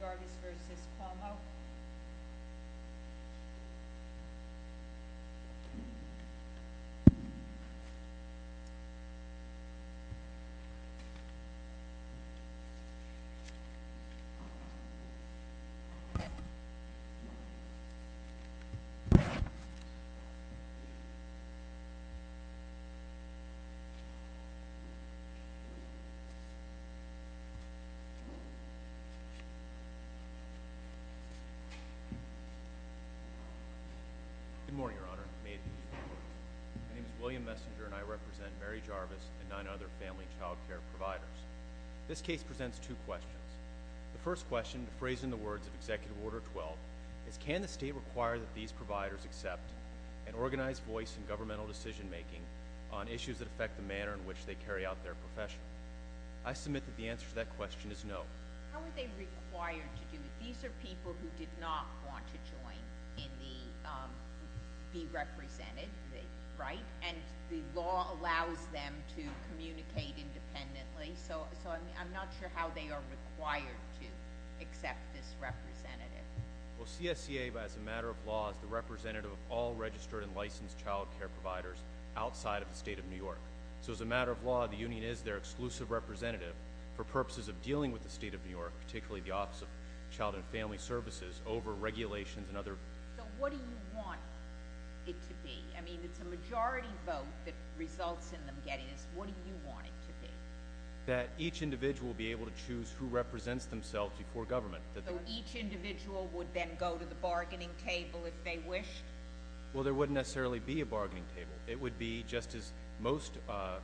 Jarvis v. Cuomo Good morning, Your Honor. My name is William Messenger, and I represent Mary Jarvis and nine other family child care providers. This case presents two questions. The first question, phrased in the words of Executive Order 12, is can the state require that these providers accept an organized voice in governmental decision-making on issues that affect the manner in which they carry out their profession? I submit that the answer to that question is no. How are they required to do it? These are people who did not want to join in the be represented, right? And the law allows them to communicate independently, so I'm not sure how they are required to accept this representative. Well, CSCA, as a matter of law, is the representative of all registered and licensed child care providers outside of the state of New York. So as a matter of law, the union is their exclusive representative for purposes of dealing with the state of New York, particularly the Office of Child and Family Services over regulations and other... So what do you want it to be? I mean, it's a majority vote that results in them getting this. What do you want it to be? That each individual be able to choose who represents themselves before government. So each individual would then go to the bargaining table if they wished? Well, there wouldn't necessarily be a bargaining table. It would be just as most, what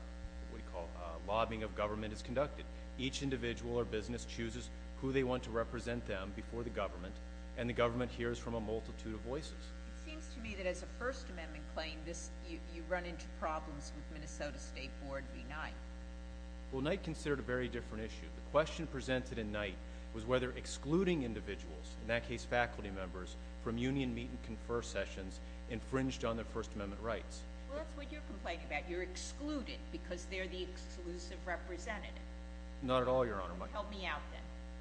do you call it, lobbying of government is conducted. Each individual or business chooses who they want to represent them before the government, and the government hears from a multitude of voices. It seems to me that as a First Amendment claim, you run into problems with Minnesota State Board v. Knight. Well, Knight considered a very different issue. The question presented in Knight was whether excluding individuals, in that case faculty members, from union meet and confer sessions infringed on their First Amendment rights. Well, that's what you're complaining about. You're excluded because they're the exclusive representative. Not at all, Your Honor. Help me out then.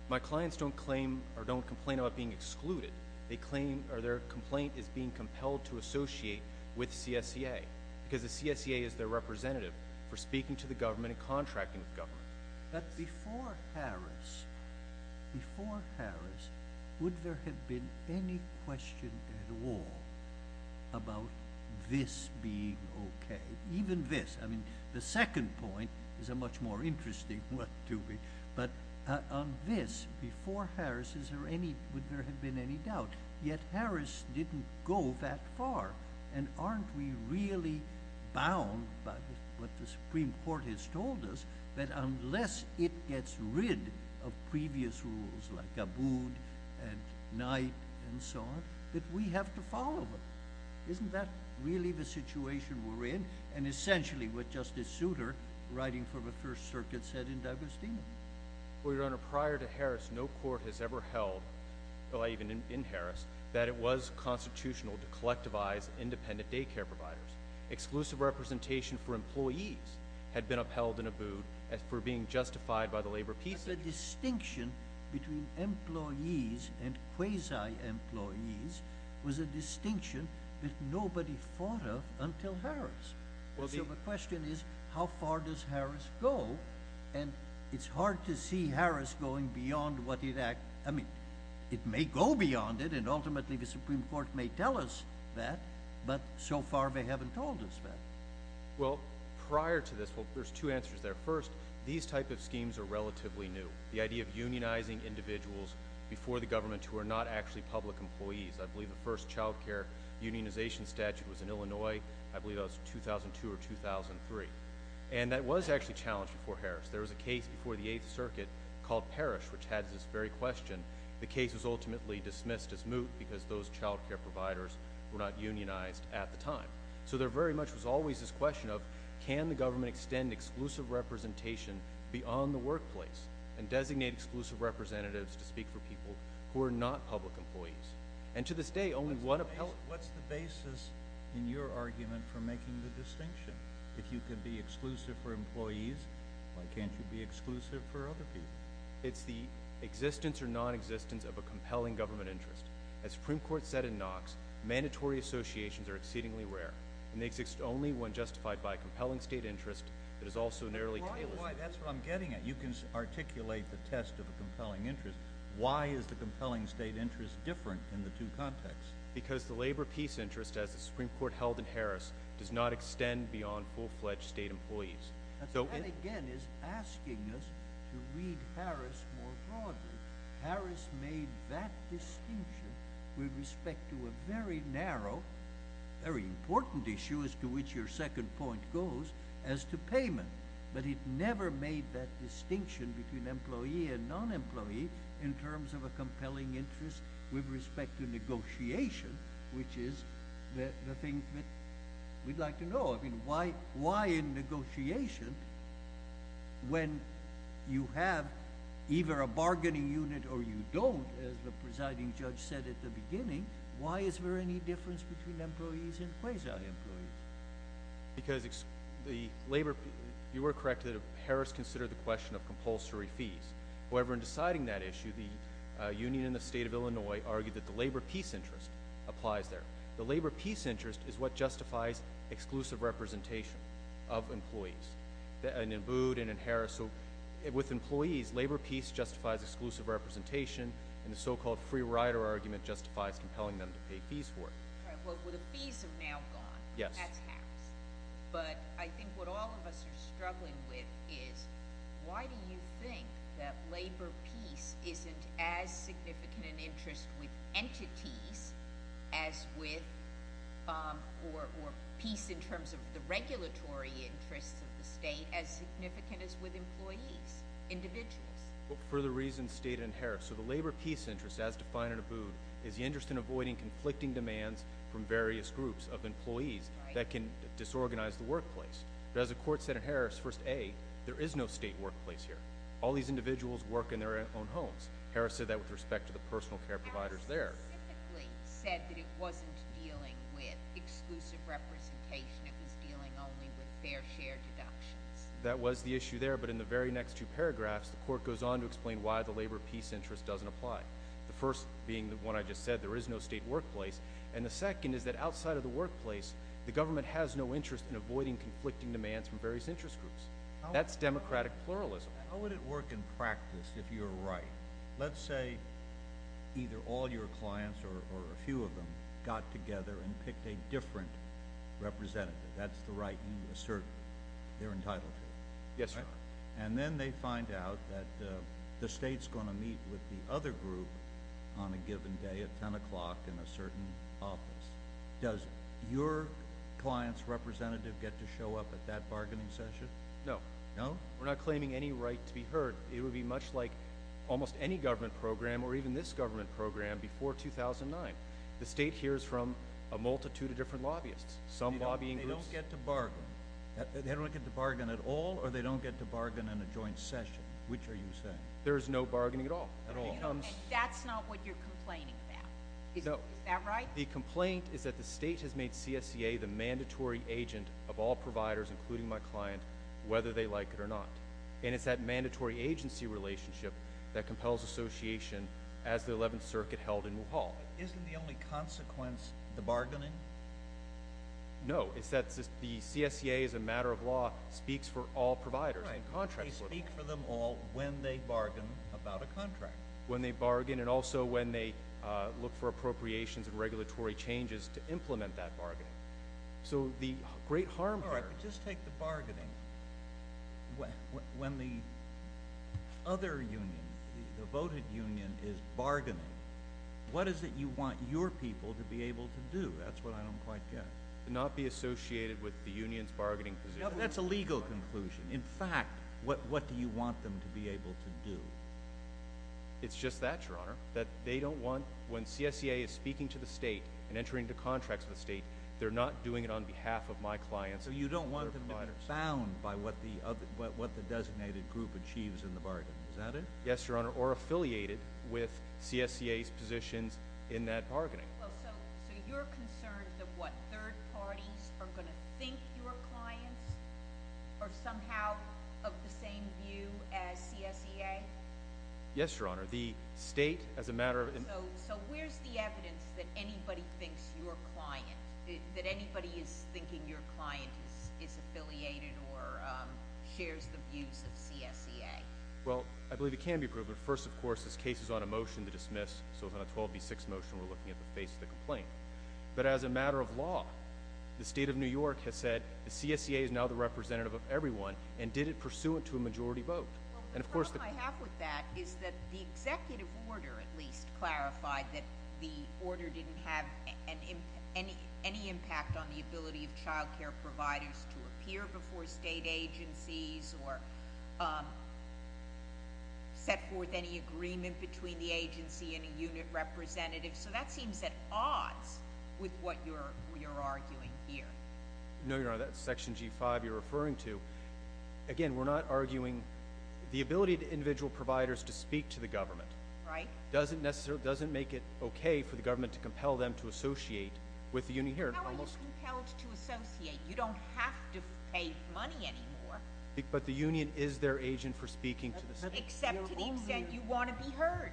My clients don't claim or don't complain about being excluded. They claim or their complaint is being compelled to associate with CSCA because the CSCA is their representative for speaking to the government and contracting with government. But before Harris, before Harris, is there any, would there have been any doubt? Yet Harris didn't go that far. And aren't we really bound by what the Supreme Court has told us, that unless it gets rid of previous rules like Abood and Knight and so on, that we have to follow them? Well, isn't that really the situation we're in? And essentially what Justice Souter, writing for the First Circuit, said in Douglas-Denham? Well, Your Honor, prior to Harris, no court has ever held, even in Harris, that it was constitutional to collectivize independent daycare providers. Exclusive representation for employees had been upheld in Abood for being justified by the labor piece. But the distinction between employees and quasi-employees was a distinction that nobody thought of until Harris. So the question is, how far does Harris go? And it's hard to see Harris going beyond what it, I mean, it may go beyond it, and ultimately the Supreme Court may tell us that, but so far they haven't told us that. Well, prior to this, there's two answers there. First, these type of schemes are relatively new. The idea of unionizing individuals before the government who are not actually public employees. I believe the first child care unionization statute was in Illinois, I believe that was 2002 or 2003. And that was actually challenged before Harris. There was a case before the Eighth Circuit called Parrish, which had this very question. The case was ultimately dismissed as moot because those child care providers were not unionized at the time. So there very much was always this question of, can the government extend exclusive representation beyond the workplace and designate exclusive representatives to speak for people who are not public employees? And to this day, only one appellate... What's the basis in your argument for making the distinction? If you can be exclusive for employees, why can't you be exclusive for other people? It's the existence or non-existence of a compelling government interest. As the Supreme Court said in Knox, mandatory associations are exceedingly rare, and they exist only when justified by a compelling state interest that is also narrowly tailored... Why? That's what I'm getting at. You can articulate the test of a compelling interest. Why is the compelling state interest different in the two contexts? Because the labor peace interest, as the Supreme Court held in Harris, does not extend beyond full-fledged state employees. That again is asking us to read Harris more broadly. Harris made that distinction with respect to a very narrow, very important issue, as to which your second point goes, as to in terms of a compelling interest with respect to negotiation, which is the thing that we'd like to know. I mean, why in negotiation, when you have either a bargaining unit or you don't, as the presiding judge said at the beginning, why is there any difference between employees and quasi-employees? Because the labor... You were correct that Harris considered the question of compulsory fees. However, in deciding that issue, the union in the state of Illinois argued that the labor peace interest applies there. The labor peace interest is what justifies exclusive representation of employees, in Abboud and in Harris. So with employees, labor peace justifies exclusive representation, and the so-called free rider argument justifies compelling them to pay fees for it. Well, the fees have now gone. That's Harris. But I think what all of us are struggling with is, why do you think that labor peace isn't as significant an interest with entities as with... Or peace in terms of the regulatory interests of the state as significant as with employees, individuals? For the reasons stated in Harris. So the labor peace interest, as defined in Abboud, is the interest in avoiding conflicting demands from various groups of employees that can disorganize the workplace. But as the court said in Harris, first A, there is no state workplace here. All these individuals work in their own homes. Harris said that with respect to the personal care providers there. Harris specifically said that it wasn't dealing with exclusive representation. It was dealing only with fair share deductions. That was the issue there, but in the very next two paragraphs, the court goes on to explain why the labor peace interest doesn't apply. The first being the one I just said, there is no state workplace. And the second is that outside of the workplace, the government has no interest in avoiding conflicting demands from various interest groups. That's democratic pluralism. How would it work in practice if you're right? Let's say either all your clients or a few of them got together and picked a different representative. That's the right you assert they're entitled to. Yes, sir. And then they find out that the state's going to meet with the other group on a given day at 10 o'clock in a certain office. Does your client's representative get to show up at that bargaining session? No. No? We're not claiming any right to be heard. It would be much like almost any government program or even this government program before 2009. The state hears from a multitude of different lobbyists, some lobbying groups. They don't get to bargain. They don't get to bargain at all, or they don't get to bargain in a joint session? Which are you saying? There is no bargaining at all. At all. That's not what you're complaining about. Is that right? No. The complaint is that the state has made CSCA the mandatory agent of all providers, including my client, whether they like it or not. And it's that mandatory agency relationship that compels association as the 11th Circuit held in Mulhall. Isn't the only consequence the bargaining? No. It's that the CSCA, as a matter of law, speaks for all providers. They speak for them all when they bargain about a contract. When they bargain and also when they look for appropriations and regulatory changes to implement that bargaining. So the great harm there— All right. But just take the bargaining. When the other union, the voted union, is bargaining, what is it you want your people to be able to do? That's what I don't quite get. Not be associated with the union's bargaining position? That's a legal conclusion. In fact, what do you want them to be able to do? It's just that, Your Honor, that they don't want—when CSCA is speaking to the state and entering into contracts with the state, they're not doing it on behalf of my clients or their providers. So you don't want them to be bound by what the designated group achieves in the bargaining. Is that it? Yes, Your Honor. Or affiliated with CSCA's positions in that bargaining. So you're concerned that what, third parties are going to think your clients are somehow of the same view as CSCA? Yes, Your Honor. The state, as a matter of— So where's the evidence that anybody thinks your client— that anybody is thinking your client is affiliated or shares the views of CSCA? Well, I believe it can be proven. First, of course, this case is on a motion to dismiss. So on a 12B6 motion, we're looking at the face of the complaint. But as a matter of law, the state of New York has said the CSCA is now the representative of everyone and did it pursuant to a majority vote. Well, the problem I have with that is that the executive order, at least, clarified that the order didn't have any impact on the ability of child care providers to appear before state agencies or set forth any agreement between the agency and a unit representative. So that seems at odds with what you're arguing here. No, Your Honor. That's Section G5 you're referring to. Again, we're not arguing—the ability of individual providers to speak to the government doesn't make it okay for the government to compel them to associate with the unit here. How are you compelled to associate? You don't have to pay money anymore. But the union is their agent for speaking to the state. Except to the extent you want to be heard.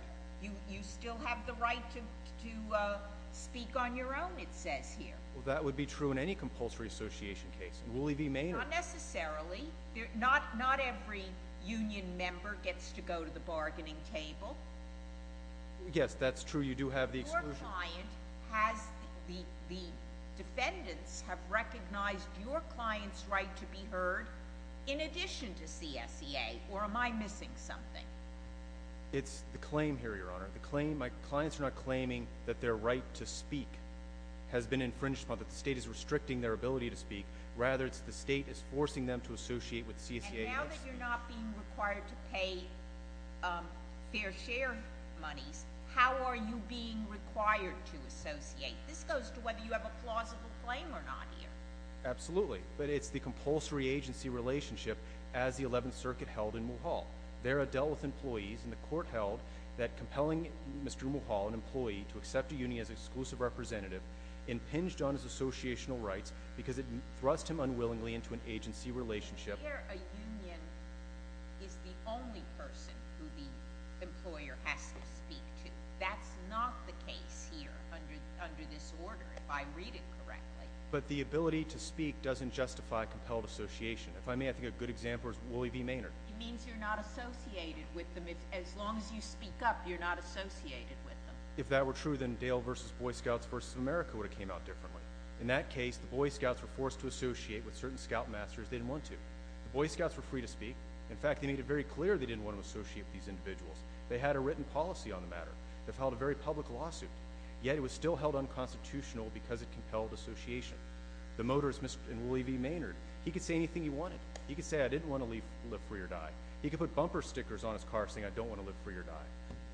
You still have the right to speak on your own, it says here. Well, that would be true in any compulsory association case. Not necessarily. Not every union member gets to go to the bargaining table. Yes, that's true. You do have the exclusion. Your client has—the defendants have recognized your client's right to be heard in addition to CSEA, or am I missing something? It's the claim here, Your Honor. The claim—my clients are not claiming that their right to speak has been infringed upon, that the state is restricting their ability to speak. Rather, it's the state is forcing them to associate with CSEA. Now that you're not being required to pay fair share monies, how are you being required to associate? This goes to whether you have a plausible claim or not here. Absolutely. But it's the compulsory agency relationship, as the 11th Circuit held in Mulhall. There it dealt with employees, and the court held that compelling Mr. Mulhall, an employee, to accept a union as an exclusive representative, impinged on his associational rights because it thrust him unwillingly into an agency relationship. Here, a union is the only person who the employer has to speak to. That's not the case here under this order, if I read it correctly. But the ability to speak doesn't justify compelled association. If I may, I think a good example is Willie V. Maynard. It means you're not associated with them. As long as you speak up, you're not associated with them. If that were true, then Dale v. Boy Scouts v. America would have came out differently. In that case, the Boy Scouts were forced to associate with certain scoutmasters they didn't want to. The Boy Scouts were free to speak. In fact, they made it very clear they didn't want to associate with these individuals. They had a written policy on the matter. They filed a very public lawsuit. Yet it was still held unconstitutional because of compelled association. The motorist in Willie V. Maynard, he could say anything he wanted. He could say, I didn't want to live free or die. He could put bumper stickers on his car saying, I don't want to live free or die.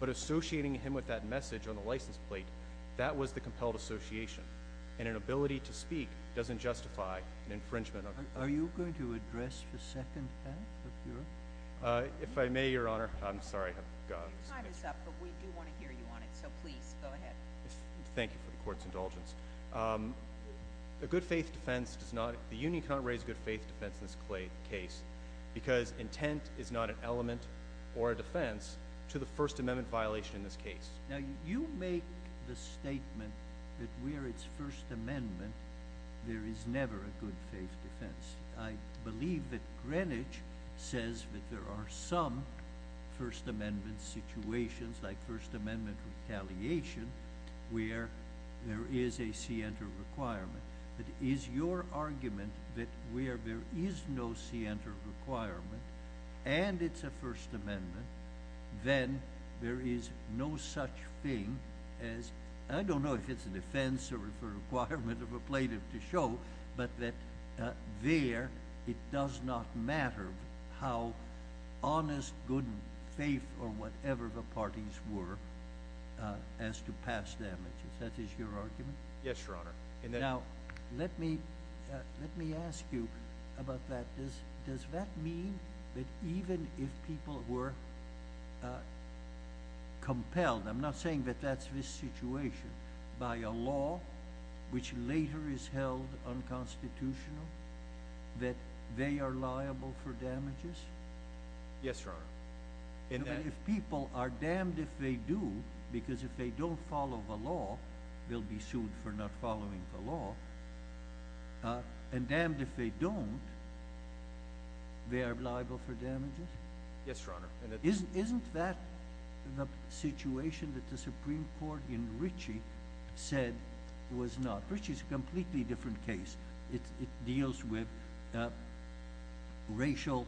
But associating him with that message on the license plate, that was the compelled association. And an ability to speak doesn't justify an infringement. Are you going to address the second half of your? If I may, Your Honor. I'm sorry. Your time is up, but we do want to hear you on it. So please, go ahead. Thank you for the court's indulgence. A good faith defense does not, the union cannot raise a good faith defense in this case because intent is not an element or a defense to the First Amendment violation in this case. Now, you make the statement that where it's First Amendment, there is never a good faith defense. I believe that Greenwich says that there are some First Amendment situations, like First Amendment retaliation, where there is a scienter requirement. But is your argument that where there is no scienter requirement and it's a First Amendment, then there is no such thing as, I don't know if it's a defense or a requirement of a plaintiff to show, but that there it does not matter how honest, good faith or whatever the parties were as to past damages. That is your argument? Yes, Your Honor. Now, let me ask you about that. Does that mean that even if people were compelled, I'm not saying that that's this situation, by a law which later is held unconstitutional, that they are liable for damages? Yes, Your Honor. And if people are damned if they do, because if they don't follow the law, they'll be sued for not following the law, and damned if they don't, they are liable for damages? Yes, Your Honor. Isn't that the situation that the Supreme Court in Ritchie said was not? Ritchie is a completely different case. It deals with racial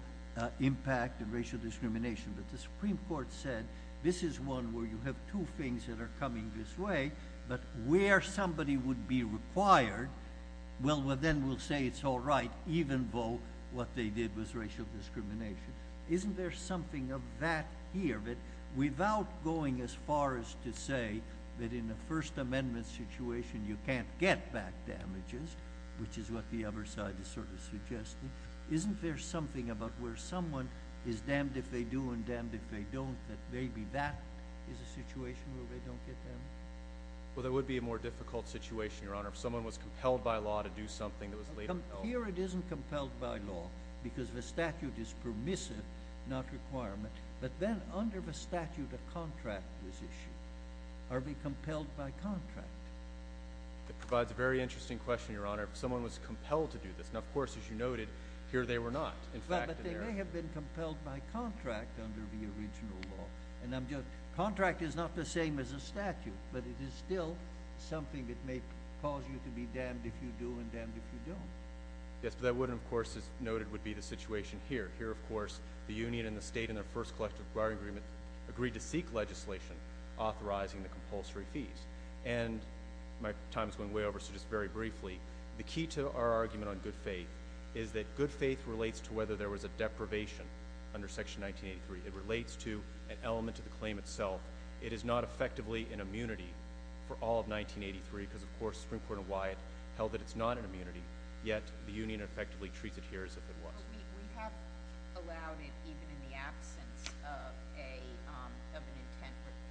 impact and racial discrimination, but the Supreme Court said this is one where you have two things that are coming this way, but where somebody would be required, well, then we'll say it's all right, even though what they did was racial discrimination. Isn't there something of that here? Without going as far as to say that in a First Amendment situation you can't get back damages, which is what the other side is sort of suggesting, isn't there something about where someone is damned if they do and damned if they don't that maybe that is a situation where they don't get damages? Well, that would be a more difficult situation, Your Honor. Here it isn't compelled by law because the statute is permissive, not requirement, but then under the statute a contract is issued. Are we compelled by contract? That provides a very interesting question, Your Honor. If someone was compelled to do this, and of course, as you noted, here they were not. But they may have been compelled by contract under the original law. Contract is not the same as a statute, but it is still something that may cause you to be damned if you do and damned if you don't. Yes, but that wouldn't, of course, as noted, would be the situation here. Here, of course, the union and the state in their first collective agreement agreed to seek legislation authorizing the compulsory fees. And my time is going way over, so just very briefly, the key to our argument on good faith is that good faith relates to whether there was a deprivation under Section 1983. It relates to an element to the claim itself. It is not effectively an immunity for all of 1983 because, of course, Supreme Court and Wyatt held that it's not an immunity, yet the union effectively treats it here as if it was. We have allowed it even in the absence of an intent requirement.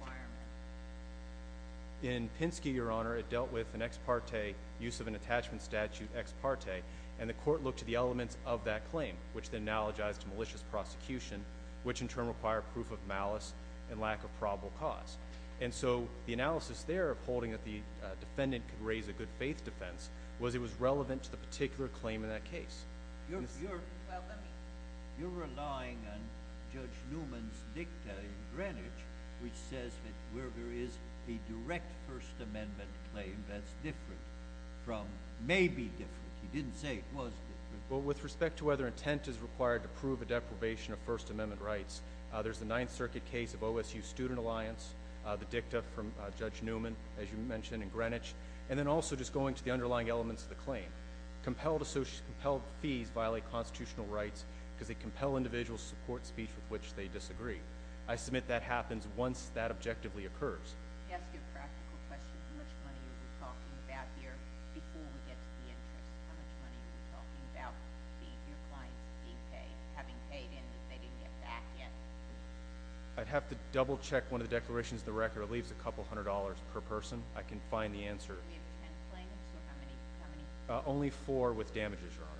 In Pinsky, Your Honor, it dealt with an ex parte use of an attachment statute, ex parte, and the court looked to the elements of that claim, which then analogized to malicious prosecution, which in turn required proof of malice and lack of probable cause. And so the analysis there of holding that the defendant could raise a good faith defense was it was relevant to the particular claim in that case. You're relying on Judge Newman's dicta in Greenwich, which says that where there is a direct First Amendment claim that's different from maybe different. He didn't say it was different. Well, with respect to whether intent is required to prove a deprivation of First Amendment rights, there's the Ninth Circuit case of OSU Student Alliance, the dicta from Judge Newman, as you mentioned, in Greenwich, and then also just going to the underlying elements of the claim. Compelled fees violate constitutional rights because they compel individuals to support speech with which they disagree. I submit that happens once that objectively occurs. I'd have to double-check one of the declarations in the record. It leaves a couple hundred dollars per person. I can find the answer. Only four with damages, Your Honor.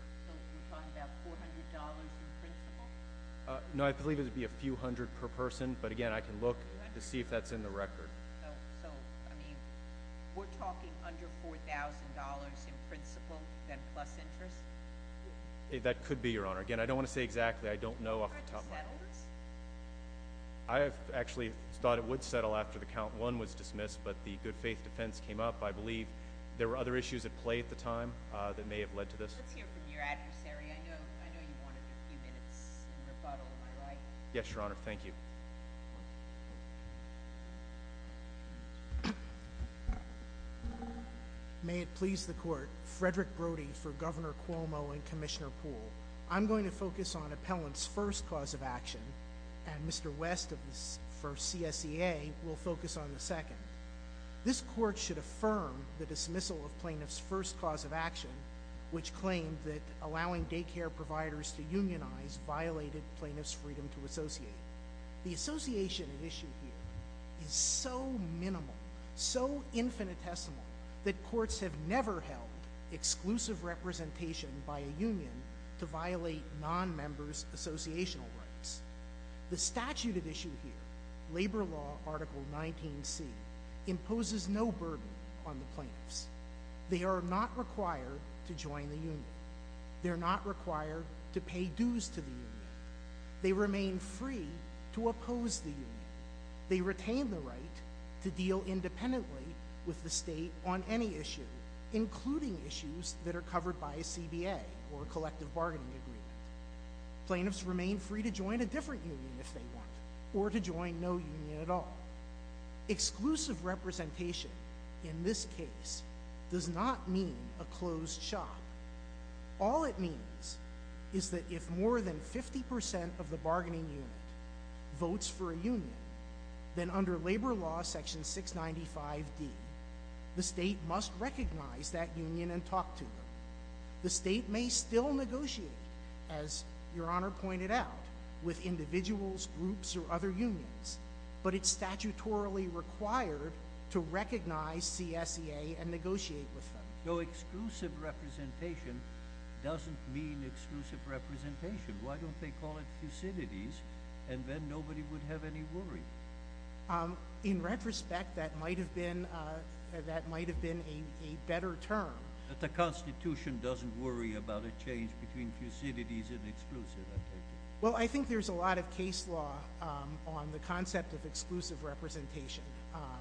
No, I believe it would be a few hundred per person, but again, I can look to see if that's in the record. So, I mean, we're talking under $4,000 in principle, then plus interest? That could be, Your Honor. Again, I don't want to say exactly. I don't know off the top of my head. Would that have settled this? I actually thought it would settle after the count one was dismissed, but the good faith defense came up. I believe there were other issues at play at the time that may have led to this. Let's hear from your adversary. I know you wanted a few minutes in rebuttal. Am I right? Yes, Your Honor. Thank you. May it please the Court. Frederick Brody for Governor Cuomo and Commissioner Poole. I'm going to focus on appellant's first cause of action, and Mr. West for CSEA will focus on the second. This court should affirm the dismissal of plaintiff's first cause of action, which claimed that allowing daycare providers to unionize violated plaintiff's freedom to associate. The association at issue here is so minimal, so infinitesimal, that courts have never held exclusive representation by a union to violate nonmembers' associational rights. The statute at issue here, Labor Law Article 19C, imposes no burden on the plaintiffs. They are not required to join the union. They're not required to pay dues to the union. They remain free to oppose the union. They retain the right to deal independently with the state on any issue, including issues that are covered by a CBA or a collective bargaining agreement. Plaintiffs remain free to join a different union if they want, or to join no union at all. Exclusive representation in this case does not mean a closed shop. All it means is that if more than 50% of the bargaining unit votes for a union, then under Labor Law Section 695D, the state must recognize that union and talk to them. The state may still negotiate, as Your Honor pointed out, with individuals, groups, or other unions, but it's statutorily required to recognize CSEA and negotiate with them. So exclusive representation doesn't mean exclusive representation. Why don't they call it Thucydides, and then nobody would have any worry? In retrospect, that might have been a better term. But the Constitution doesn't worry about a change between Thucydides and exclusive, I take it? Well, I think there's a lot of case law on the concept of exclusive representation.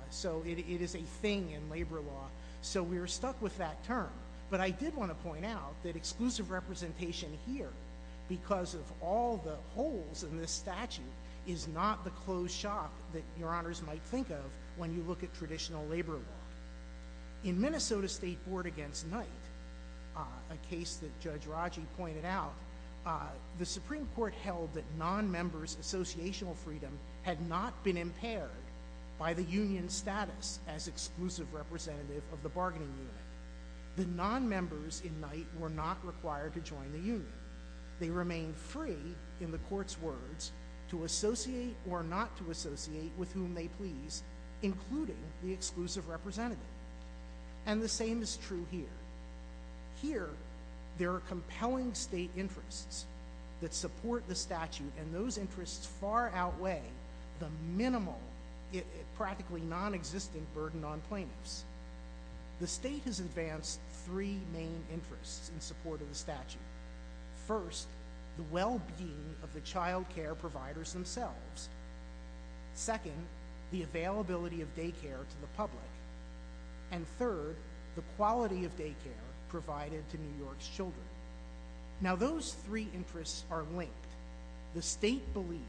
So it is a thing in labor law. So we're stuck with that term. But I did want to point out that exclusive representation here, because of all the holes in this statute, is not the closed shop that Your Honors might think of when you look at traditional labor law. In Minnesota State Board Against Night, a case that Judge Raji pointed out, the Supreme Court held that non-members' associational freedom had not been impaired by the union's status as exclusive representative of the bargaining unit. The non-members in night were not required to join the union. They remained free, in the Court's words, to associate or not to associate with whom they pleased, including the exclusive representative. And the same is true here. Here, there are compelling state interests that support the statute, and those interests far outweigh the minimal, practically nonexistent burden on plaintiffs. The state has advanced three main interests in support of the statute. First, the well-being of the child care providers themselves. Second, the availability of daycare to the public. And third, the quality of daycare provided to New York's children. Now, those three interests are linked. The state believed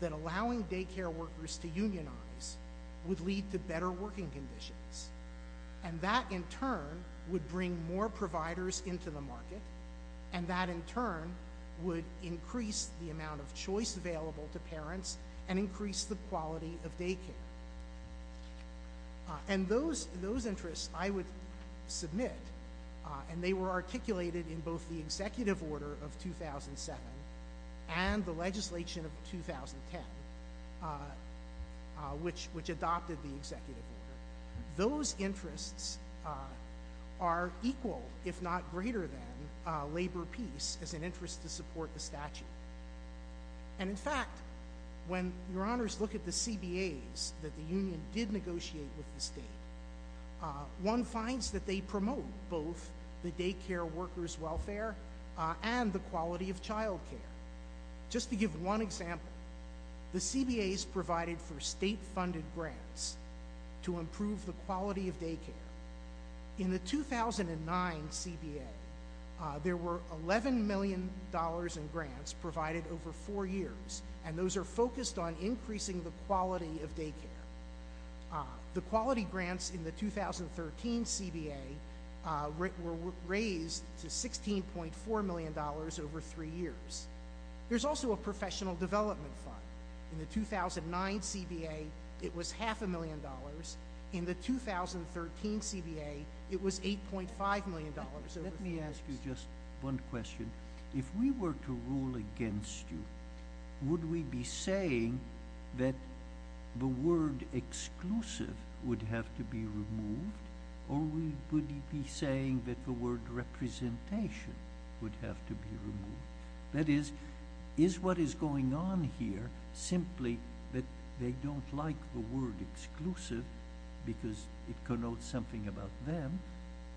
that allowing daycare workers to unionize would lead to better working conditions, and that, in turn, would bring more providers into the market, and that, in turn, would increase the amount of choice available to parents and increase the quality of daycare. And those interests I would submit, and they were articulated in both the Executive Order of 2007 and the legislation of 2010, which adopted the Executive Order. Those interests are equal, if not greater than, labor peace as an interest to support the statute. And, in fact, when your honors look at the CBAs that the union did negotiate with the state, one finds that they promote both the daycare workers' welfare and the quality of child care. Just to give one example, the CBAs provided for state-funded grants to improve the quality of daycare. In the 2009 CBA, there were $11 million in grants provided over four years, and those are focused on increasing the quality of daycare. The quality grants in the 2013 CBA were raised to $16.4 million over three years. There's also a professional development fund. In the 2009 CBA, it was half a million dollars. In the 2013 CBA, it was $8.5 million over three years. Let me ask you just one question. If we were to rule against you, would we be saying that the word exclusive would have to be removed, or would we be saying that the word representation would have to be removed? That is, is what is going on here simply that they don't like the word exclusive because it connotes something about them,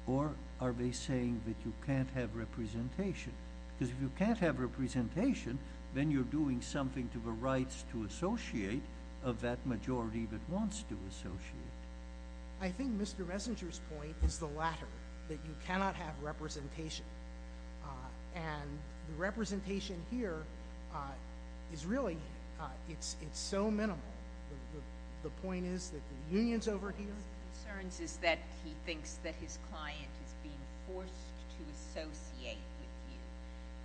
or are they saying that you can't have representation? Because if you can't have representation, then you're doing something to the rights to associate of that majority that wants to associate. I think Mr. Resinger's point is the latter, that you cannot have representation. The representation here is really so minimal. The point is that the unions over here— One of his concerns is that he thinks that his client is being forced to associate with you,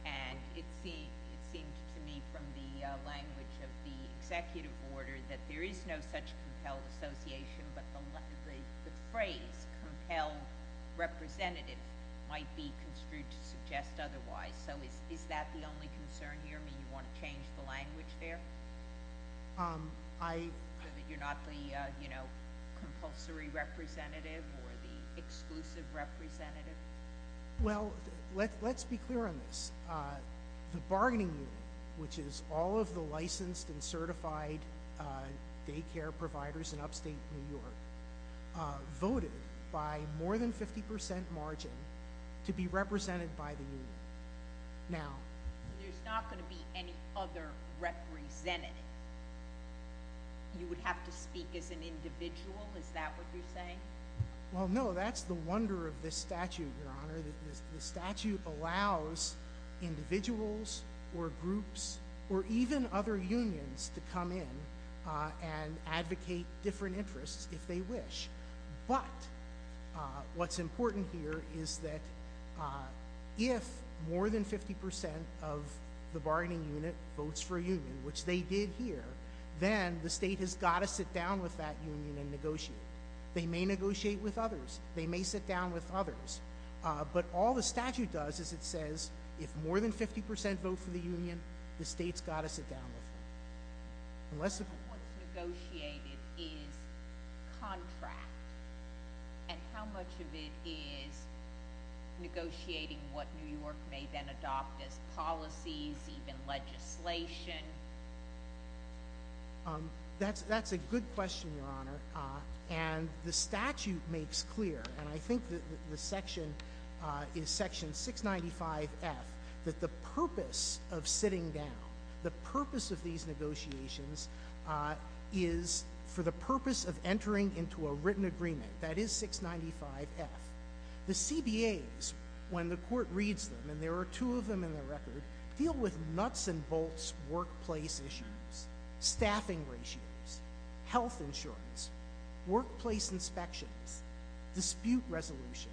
and it seemed to me from the language of the executive order that there is no such compelled association, but the phrase compelled representative might be construed to suggest otherwise. Is that the only concern here? Do you want to change the language there so that you're not the compulsory representative or the exclusive representative? Well, let's be clear on this. The bargaining union, which is all of the licensed and certified daycare providers in upstate New York, voted by more than 50 percent margin to be represented by the union. Now— There's not going to be any other representative? You would have to speak as an individual? Is that what you're saying? Well, no, that's the wonder of this statute, Your Honor. The statute allows individuals or groups or even other unions to come in and advocate different interests if they wish. But what's important here is that if more than 50 percent of the bargaining unit votes for a union, which they did here, then the state has got to sit down with that union and negotiate. They may negotiate with others. They may sit down with others. But all the statute does is it says if more than 50 percent vote for the union, the state's got to sit down with them. What's negotiated is contract. And how much of it is negotiating what New York may then adopt as policies, even legislation? That's a good question, Your Honor. And the statute makes clear, and I think the section is section 695F, that the purpose of sitting down, the purpose of these negotiations is for the purpose of entering into a written agreement. That is 695F. The CBAs, when the court reads them, and there are two of them in the record, deal with nuts and bolts workplace issues, staffing ratios, health insurance, workplace inspections, dispute resolution,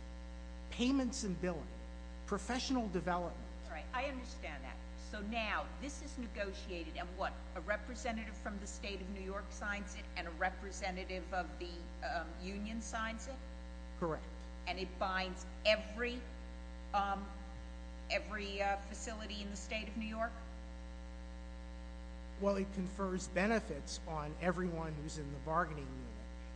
payments and billing, professional development. All right. I understand that. So now this is negotiated and what? A representative from the state of New York signs it and a representative of the union signs it? Correct. And it binds every facility in the state of New York? Well, it confers benefits on everyone who's in the bargaining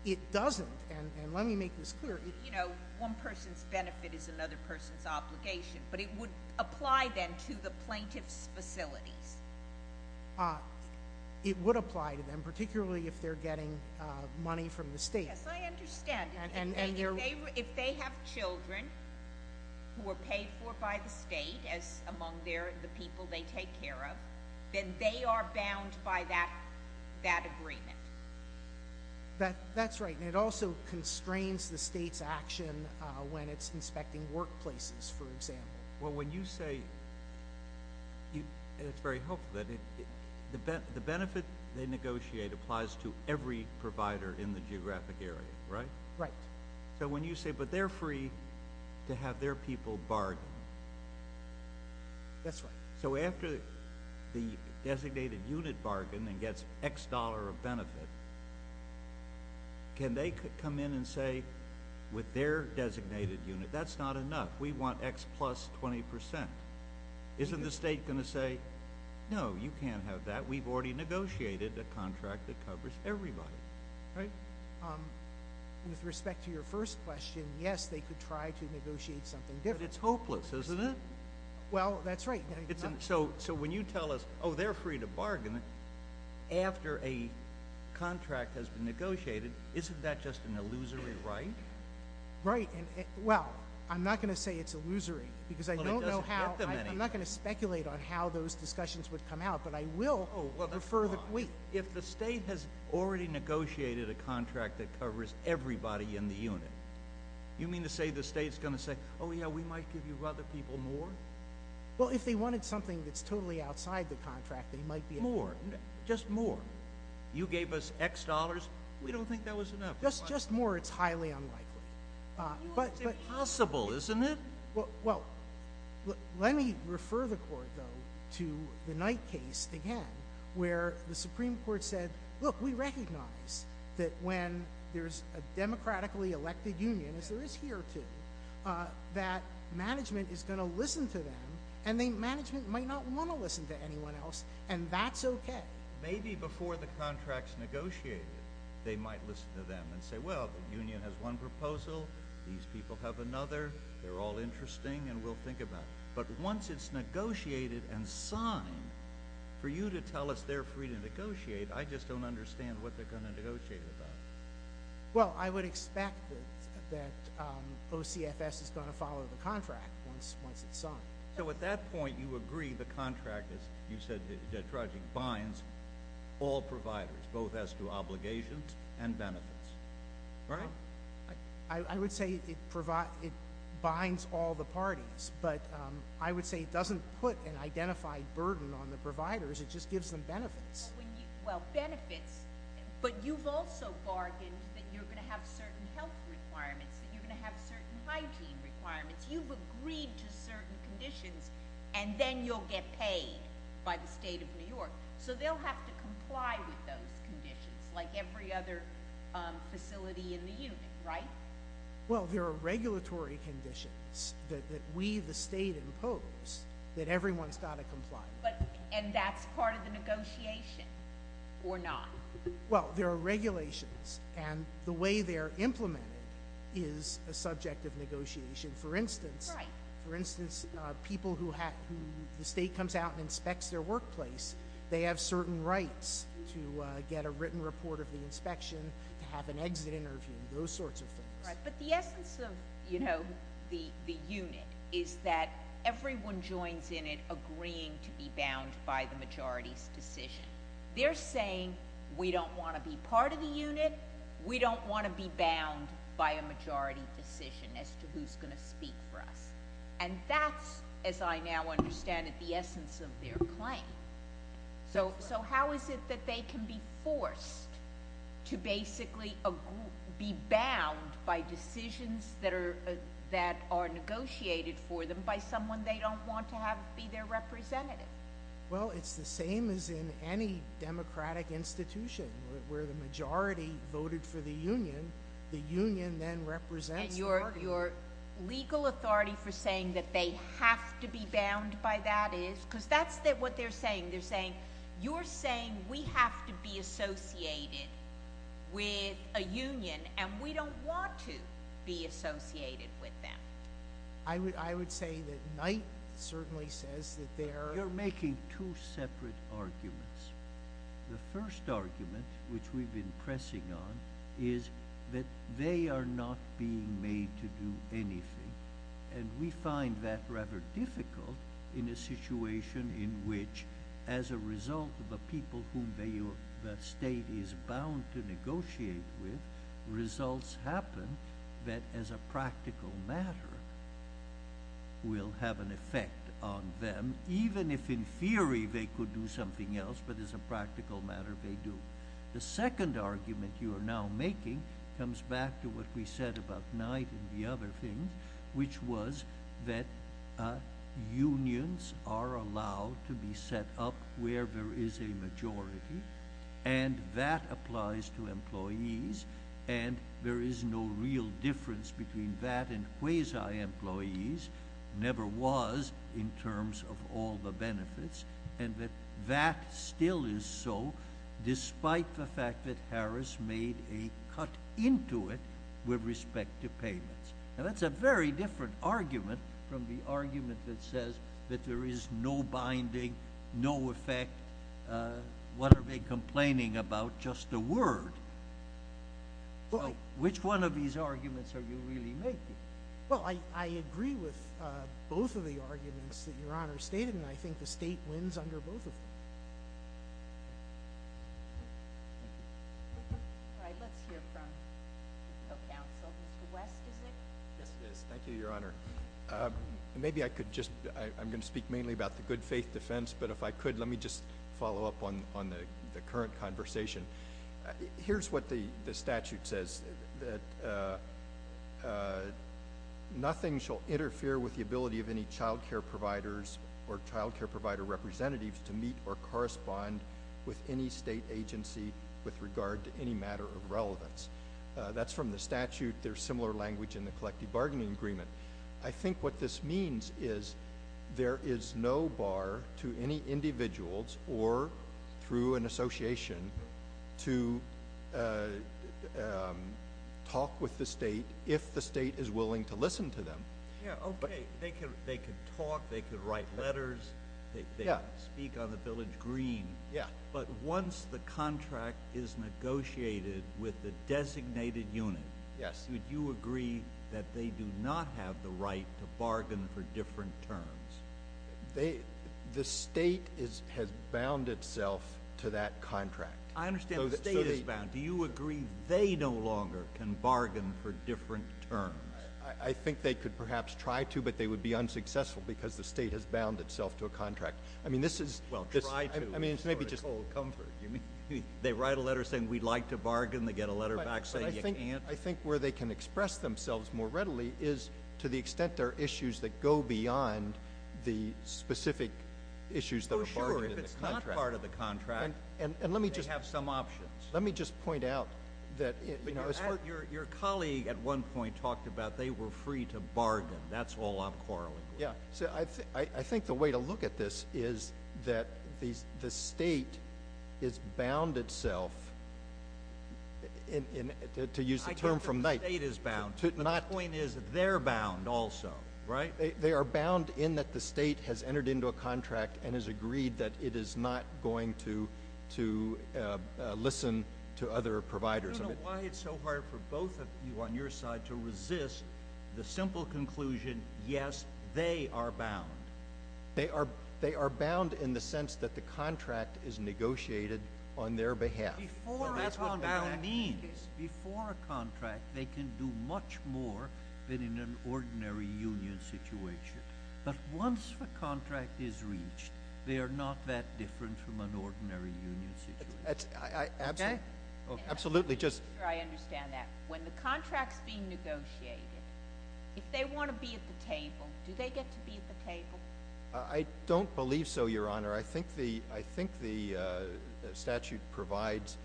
unit. It doesn't, and let me make this clear. You know, one person's benefit is another person's obligation, but it would apply then to the plaintiff's facilities. It would apply to them, particularly if they're getting money from the state. Yes, I understand. If they have children who are paid for by the state as among the people they take care of, then they are bound by that agreement. That's right, and it also constrains the state's action when it's inspecting workplaces, for example. Well, when you say, and it's very helpful, that the benefit they negotiate applies to every provider in the geographic area, right? Right. So when you say, but they're free to have their people bargain. That's right. So after the designated unit bargain and gets X dollar of benefit, can they come in and say with their designated unit, that's not enough, we want X plus 20%. Isn't the state going to say, no, you can't have that, we've already negotiated a contract that covers everybody, right? With respect to your first question, yes, they could try to negotiate something different. But it's hopeless, isn't it? Well, that's right. So when you tell us, oh, they're free to bargain, after a contract has been negotiated, isn't that just an illusory right? Right. Well, I'm not going to say it's illusory, because I don't know how, I'm not going to speculate on how those discussions would come out, but I will prefer that we. If the state has already negotiated a contract that covers everybody in the unit, you mean to say the state's going to say, oh, yeah, we might give you other people more? Well, if they wanted something that's totally outside the contract, they might be able to. More, just more. You gave us X dollars, we don't think that was enough. Just more, it's highly unlikely. It's impossible, isn't it? Well, let me refer the court, though, to the Knight case again, where the Supreme Court said, look, we recognize that when there's a democratically elected union, as there is here too, that management is going to listen to them, and management might not want to listen to anyone else, and that's okay. Maybe before the contract's negotiated, they might listen to them and say, well, the union has one proposal, these people have another, they're all interesting, and we'll think about it. But once it's negotiated and signed, for you to tell us they're free to negotiate, I just don't understand what they're going to negotiate about. Well, I would expect that OCFS is going to follow the contract once it's signed. So at that point, you agree the contract binds all providers, both as to obligations and benefits, right? I would say it binds all the parties, but I would say it doesn't put an identified burden on the providers, it just gives them benefits. Well, benefits, but you've also bargained that you're going to have certain health requirements, that you're going to have certain hygiene requirements. You've agreed to certain conditions, and then you'll get paid by the state of New York. So they'll have to comply with those conditions, like every other facility in the union, right? Well, there are regulatory conditions that we, the state, impose that everyone's got to comply. And that's part of the negotiation, or not? Well, there are regulations, and the way they're implemented is a subject of negotiation. For instance, people who the state comes out and inspects their workplace, they have certain rights to get a written report of the inspection, to have an exit interview, those sorts of things. Right, but the essence of the unit is that everyone joins in it agreeing to be bound by the majority's decision. They're saying, we don't want to be part of the unit, we don't want to be bound by a majority decision as to who's going to speak for us. And that's, as I now understand it, the essence of their claim. So how is it that they can be forced to basically be bound by decisions that are negotiated for them by someone they don't want to be their representative? Well, it's the same as in any democratic institution, where the majority voted for the union, the union then represents the party. And your legal authority for saying that they have to be bound by that is? Because that's what they're saying. They're saying, you're saying we have to be associated with a union, and we don't want to be associated with them. I would say that Knight certainly says that they are. You're making two separate arguments. The first argument, which we've been pressing on, is that they are not being made to do anything. And we find that rather difficult in a situation in which, as a result of a people whom the state is bound to negotiate with, results happen that, as a practical matter, will have an effect on them. Even if, in theory, they could do something else, but as a practical matter, they do. The second argument you are now making comes back to what we said about Knight and the other things, which was that unions are allowed to be set up where there is a majority. And that applies to employees. And there is no real difference between that and quasi-employees, never was in terms of all the benefits. And that that still is so, despite the fact that Harris made a cut into it with respect to payments. Now, that's a very different argument from the argument that says that there is no binding, no effect. But what are they complaining about? Just a word. Which one of these arguments are you really making? Well, I agree with both of the arguments that Your Honor stated, and I think the state wins under both of them. All right, let's hear from counsel. Mr. West, is it? Yes, it is. Thank you, Your Honor. Maybe I could just, I'm going to speak mainly about the good faith defense, but if I could, let me just follow up on the current conversation. Here's what the statute says, that nothing shall interfere with the ability of any child care providers or child care provider representatives to meet or correspond with any state agency with regard to any matter of relevance. That's from the statute. There's similar language in the collective bargaining agreement. I think what this means is there is no bar to any individuals or through an association to talk with the state if the state is willing to listen to them. Yeah, okay. They can talk, they can write letters, they can speak on the village green. Yeah. But once the contract is negotiated with the designated unit, would you agree that they do not have the right to bargain for different terms? The state has bound itself to that contract. I understand the state is bound. Do you agree they no longer can bargain for different terms? I think they could perhaps try to, but they would be unsuccessful because the state has bound itself to a contract. I mean, this is ‑‑ well, try to. I mean, maybe just ‑‑ For a cold comfort. You mean they write a letter saying we'd like to bargain, they get a letter back saying you can't? I think where they can express themselves more readily is to the extent there are issues that go beyond the specific issues that are part of the contract. Oh, sure. If it's not part of the contract, they have some options. Let me just point out that, you know, as far as ‑‑ Your colleague at one point talked about they were free to bargain. That's all I'm quarreling with. Yeah. I think the way to look at this is that the state has bound itself to use the term from night. I can't say the state is bound. The point is they're bound also, right? They are bound in that the state has entered into a contract and has agreed that it is not going to listen to other providers. I don't know why it's so hard for both of you on your side to resist the simple conclusion, yes, they are bound. They are bound in the sense that the contract is negotiated on their behalf. That's what bound means. Before a contract, they can do much more than in an ordinary union situation. But once the contract is reached, they are not that different from an ordinary union situation. Okay? Absolutely. Just ‑‑ I understand that. When the contract is being negotiated, if they want to be at the table, do they get to be at the table? I don't believe so, Your Honor. I think the statute provides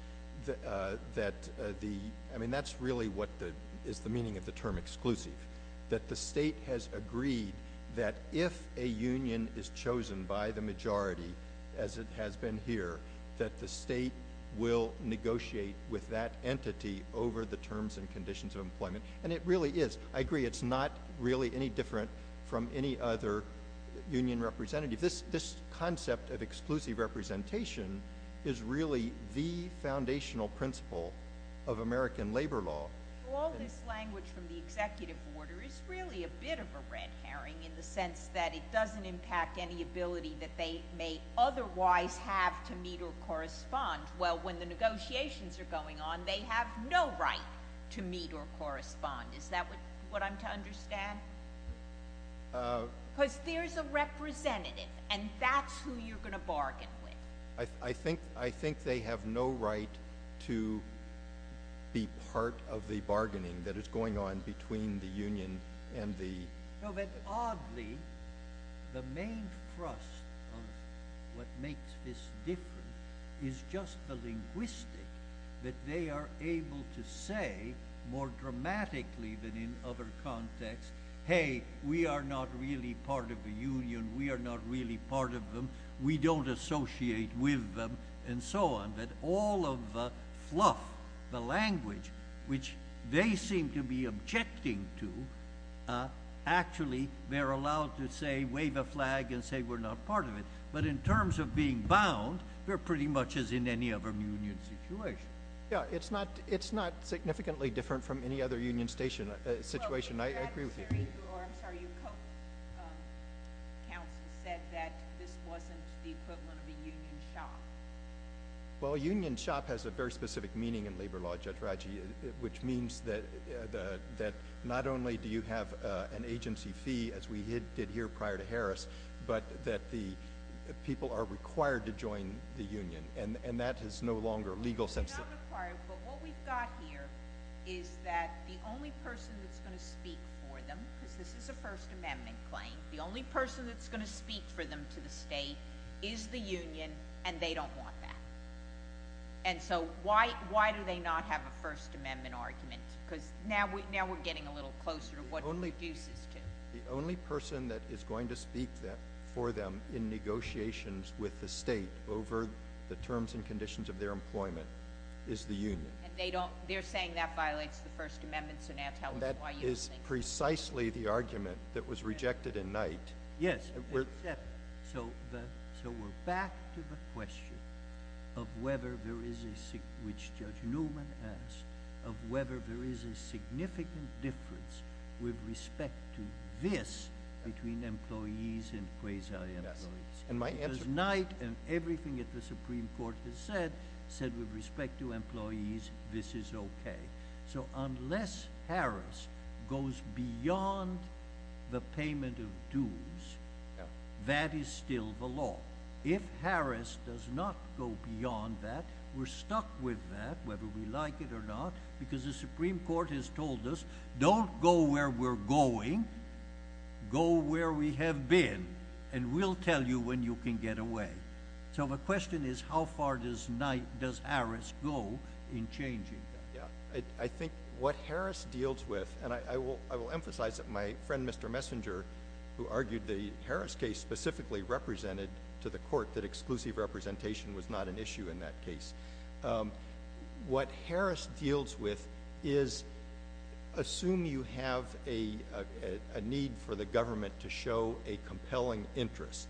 that the ‑‑ I mean, that's really what is the meaning of the term exclusive, that the state has agreed that if a union is chosen by the majority, as it has been here, that the state will negotiate with that entity over the terms and conditions of employment. And it really is. I agree it's not really any different from any other union representative. This concept of exclusive representation is really the foundational principle of American labor law. All this language from the executive order is really a bit of a red herring in the sense that it doesn't impact any ability that they may otherwise have to meet or correspond. Well, when the negotiations are going on, they have no right to meet or correspond. Is that what I'm to understand? Because there's a representative, and that's who you're going to bargain with. I think they have no right to be part of the bargaining that is going on between the union and the ‑‑ No, but oddly, the main thrust of what makes this different is just the linguistic that they are able to say more dramatically than in other contexts, hey, we are not really part of the union. We are not really part of them. We don't associate with them, and so on. But all of the fluff, the language, which they seem to be objecting to, actually they're allowed to, say, wave a flag and say we're not part of it. But in terms of being bound, they're pretty much as in any other union situation. Yeah, it's not significantly different from any other union situation. I agree with you. I'm sorry. Your co‑counsel said that this wasn't the equivalent of a union shop. Well, union shop has a very specific meaning in labor law, Judge Raggi, which means that not only do you have an agency fee, as we did here prior to Harris, but that the people are required to join the union, and that is no longer legal sensitive. But what we've got here is that the only person that's going to speak for them, because this is a First Amendment claim, the only person that's going to speak for them to the state is the union, and they don't want that. And so why do they not have a First Amendment argument? Because now we're getting a little closer to what it reduces to. The only person that is going to speak for them in negotiations with the state over the terms and conditions of their employment is the union. And they're saying that violates the First Amendment, so now tell us why you don't think that. That is precisely the argument that was rejected in Knight. Yes. So we're back to the question of whether there is a, which Judge Newman asked, of whether there is a significant difference with respect to this between employees and quasi‑employees. Because Knight and everything that the Supreme Court has said, said with respect to employees, this is okay. So unless Harris goes beyond the payment of dues, that is still the law. If Harris does not go beyond that, we're stuck with that, whether we like it or not, because the Supreme Court has told us, don't go where we're going, go where we have been, and we'll tell you when you can get away. So the question is, how far does Harris go in changing that? Yeah. I think what Harris deals with, and I will emphasize that my friend, Mr. Messenger, who argued the Harris case specifically represented to the court that exclusive representation was not an issue in that case. What Harris deals with is, assume you have a need for the government to show a compelling interest,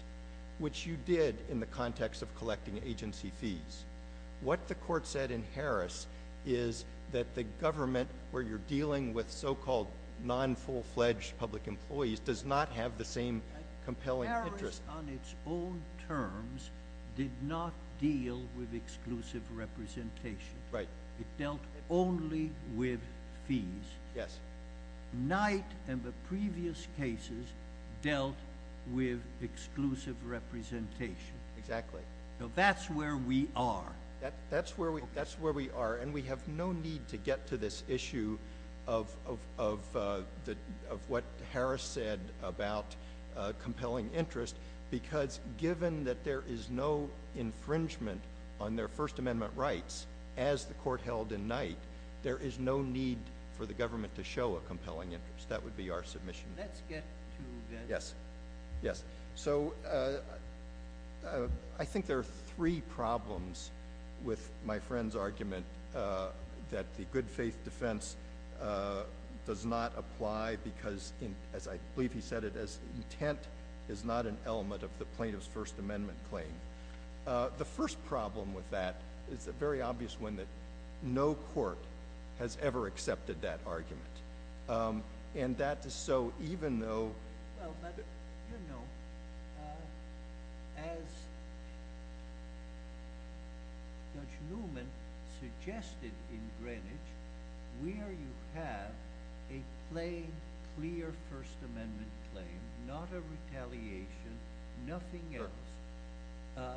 which you did in the context of collecting agency fees. What the court said in Harris is that the government, where you're dealing with so‑called non‑full‑fledged public employees, does not have the same compelling interest. Harris, on its own terms, did not deal with exclusive representation. Right. It dealt only with fees. Yes. Knight and the previous cases dealt with exclusive representation. Exactly. So that's where we are. And we have no need to get to this issue of what Harris said about compelling interest, because given that there is no infringement on their First Amendment rights, as the court held in Knight, there is no need for the government to show a compelling interest. That would be our submission. Let's get to that. Yes. So I think there are three problems with my friend's argument that the good faith defense does not apply because, as I believe he said it, intent is not an element of the plaintiff's First Amendment claim. The first problem with that is a very obvious one, that no court has ever accepted that argument. And that is so even though ‑‑ Well, but, you know, as Judge Newman suggested in Greenwich, where you have a plain, clear First Amendment claim, not a retaliation, nothing else,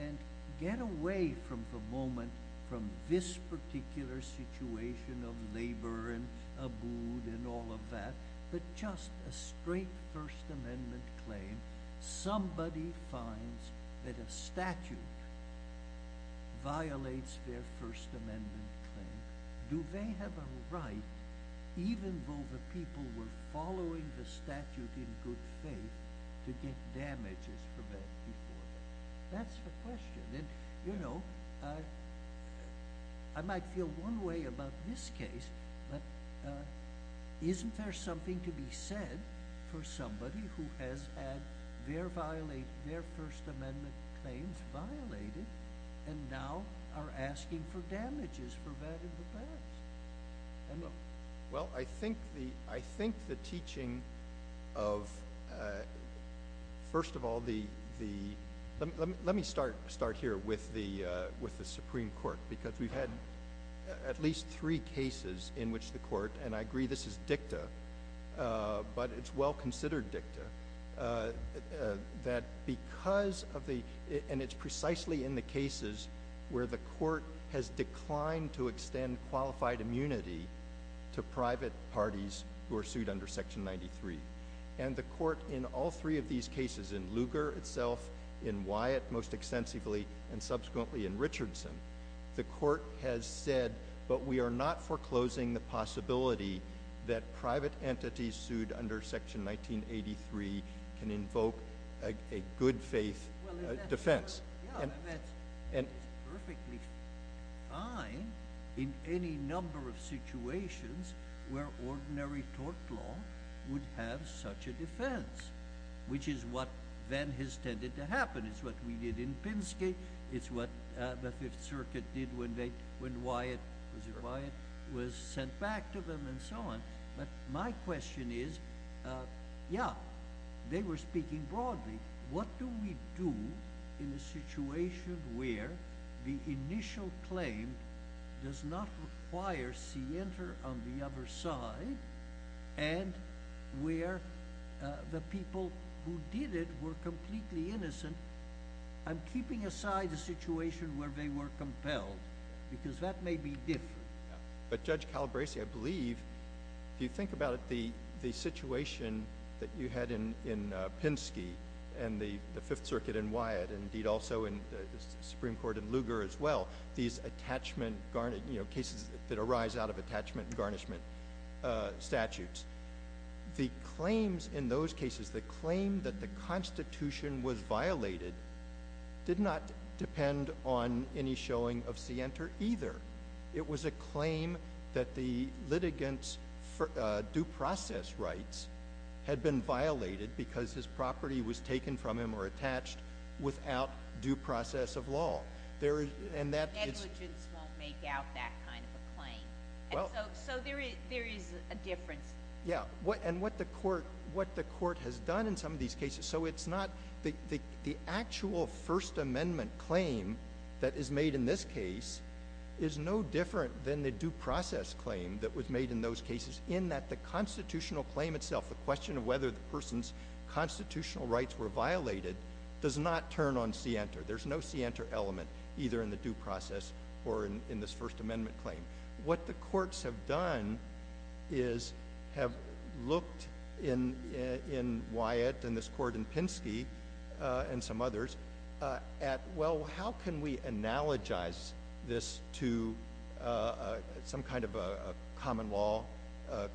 and get away from the moment, from this particular situation of labor and abode and all of that, but just a straight First Amendment claim, somebody finds that a statute violates their First Amendment claim. Do they have a right, even though the people were following the statute in good faith, to get damages for that before them? That's the question. And, you know, I might feel one way about this case, but isn't there something to be said for somebody who has had their First Amendment claims violated and now are asking for damages for that in the past? I don't know. Well, I think the teaching of, first of all, the ‑‑ let me start here with the Supreme Court because we've had at least three cases in which the court, and I agree this is dicta, but it's well‑considered dicta, that because of the ‑‑ and it's precisely in the cases where the court has declined to extend qualified immunity to private parties who are sued under Section 93. And the court in all three of these cases, in Lugar itself, in Wyatt most extensively, and subsequently in Richardson, the court has said, but we are not foreclosing the possibility that private entities sued under Section 1983 can invoke a good faith defense. And that's perfectly fine in any number of situations where ordinary tort law would have such a defense, which is what then has tended to happen. It's what we did in Pinsky. It's what the Fifth Circuit did when Wyatt was sent back to them and so on. But my question is, yeah, they were speaking broadly. What do we do in a situation where the initial claim does not require cienter on the other side and where the people who did it were completely innocent? I'm keeping aside the situation where they were compelled because that may be different. But, Judge Calabresi, I believe, if you think about it, the situation that you had in Pinsky and the Fifth Circuit in Wyatt and, indeed, also in the Supreme Court in Lugar as well, these cases that arise out of attachment and garnishment statutes, the claims in those cases, the claim that the Constitution was violated, did not depend on any showing of cienter either. It was a claim that the litigant's due process rights had been violated because his property was taken from him or attached without due process of law. And that is— So there is a difference. Yeah, and what the Court has done in some of these cases— so it's not—the actual First Amendment claim that is made in this case is no different than the due process claim that was made in those cases in that the constitutional claim itself, the question of whether the person's constitutional rights were violated, does not turn on cienter. There's no cienter element either in the due process or in this First Amendment claim. What the courts have done is have looked in Wyatt and this court in Pinsky and some others at, well, how can we analogize this to some kind of a common law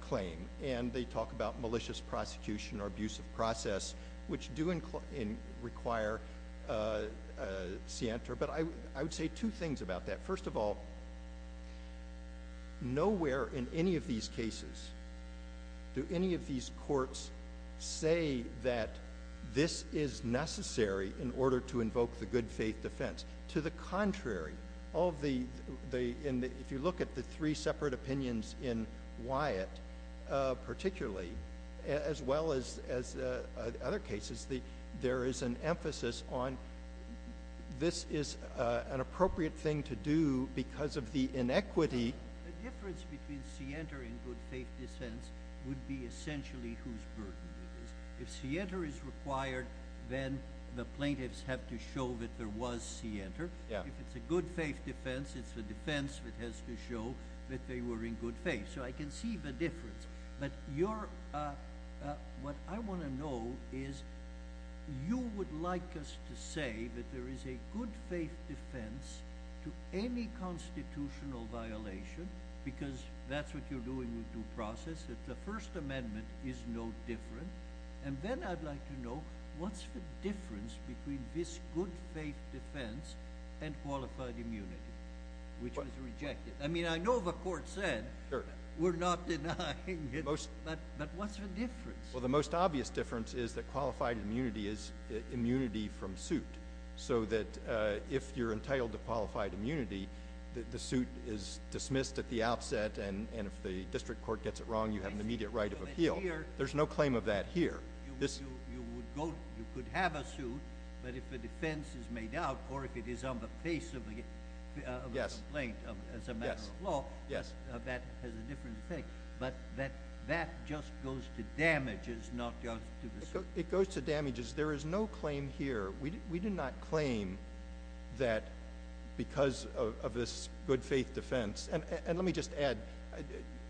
claim? And they talk about malicious prosecution or abusive process, which do require cienter. But I would say two things about that. First of all, nowhere in any of these cases do any of these courts say that this is necessary in order to invoke the good faith defense. To the contrary, if you look at the three separate opinions in Wyatt particularly, as well as other cases, there is an emphasis on this is an appropriate thing to do because of the inequity. The difference between cienter and good faith defense would be essentially whose burden it is. If cienter is required, then the plaintiffs have to show that there was cienter. If it's a good faith defense, it's the defense that has to show that they were in good faith. So I can see the difference. But what I want to know is you would like us to say that there is a good faith defense to any constitutional violation because that's what you're doing with due process, that the First Amendment is no different. And then I'd like to know what's the difference between this good faith defense and qualified immunity, which was rejected. I mean, I know the court said we're not denying it, but what's the difference? Well, the most obvious difference is that qualified immunity is immunity from suit so that if you're entitled to qualified immunity, the suit is dismissed at the outset, and if the district court gets it wrong, you have an immediate right of appeal. There's no claim of that here. You could have a suit, but if a defense is made out or if it is on the face of a complaint as a matter of law, that has a different effect. But that just goes to damages, not just to the suit. It goes to damages. There is no claim here. We do not claim that because of this good faith defense. And let me just add,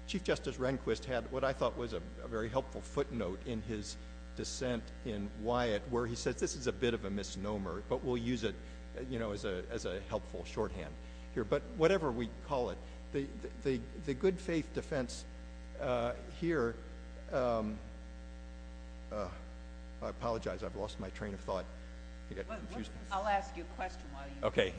Chief Justice Rehnquist had what I thought was a very helpful footnote in his dissent in Wyatt where he says this is a bit of a misnomer, but we'll use it, you know, as a helpful shorthand here. But whatever we call it, the good faith defense here, I apologize. I've lost my train of thought. I got confused. I'll ask you a question. Okay.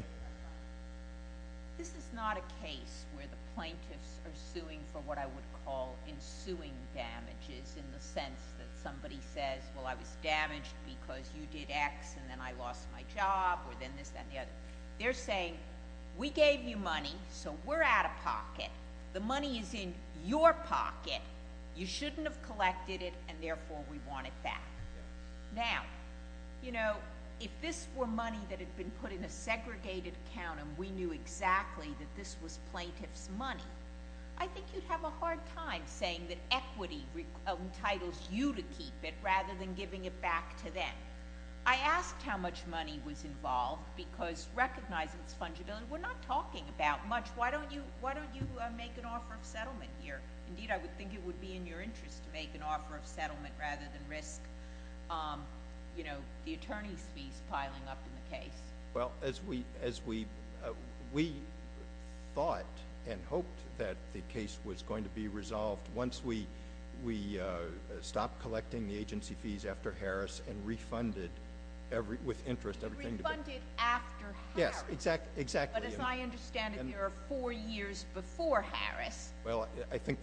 This is not a case where the plaintiffs are suing for what I would call ensuing damages in the sense that somebody says, well, I was damaged because you did X and then I lost my job or then this, that, and the other. They're saying we gave you money, so we're out of pocket. The money is in your pocket. You shouldn't have collected it, and therefore we want it back. Now, you know, if this were money that had been put in a segregated account and we knew exactly that this was plaintiff's money, I think you'd have a hard time saying that equity entitles you to keep it rather than giving it back to them. I asked how much money was involved because recognizing its fungibility, we're not talking about much. Why don't you make an offer of settlement here? Indeed, I would think it would be in your interest to make an offer of settlement rather than risk the attorney's fees piling up in the case. Well, we thought and hoped that the case was going to be resolved once we stopped collecting the agency fees after Harris and refunded with interest everything. Refunded after Harris. Yes, exactly. But as I understand it, there are four years before Harris. Well, I think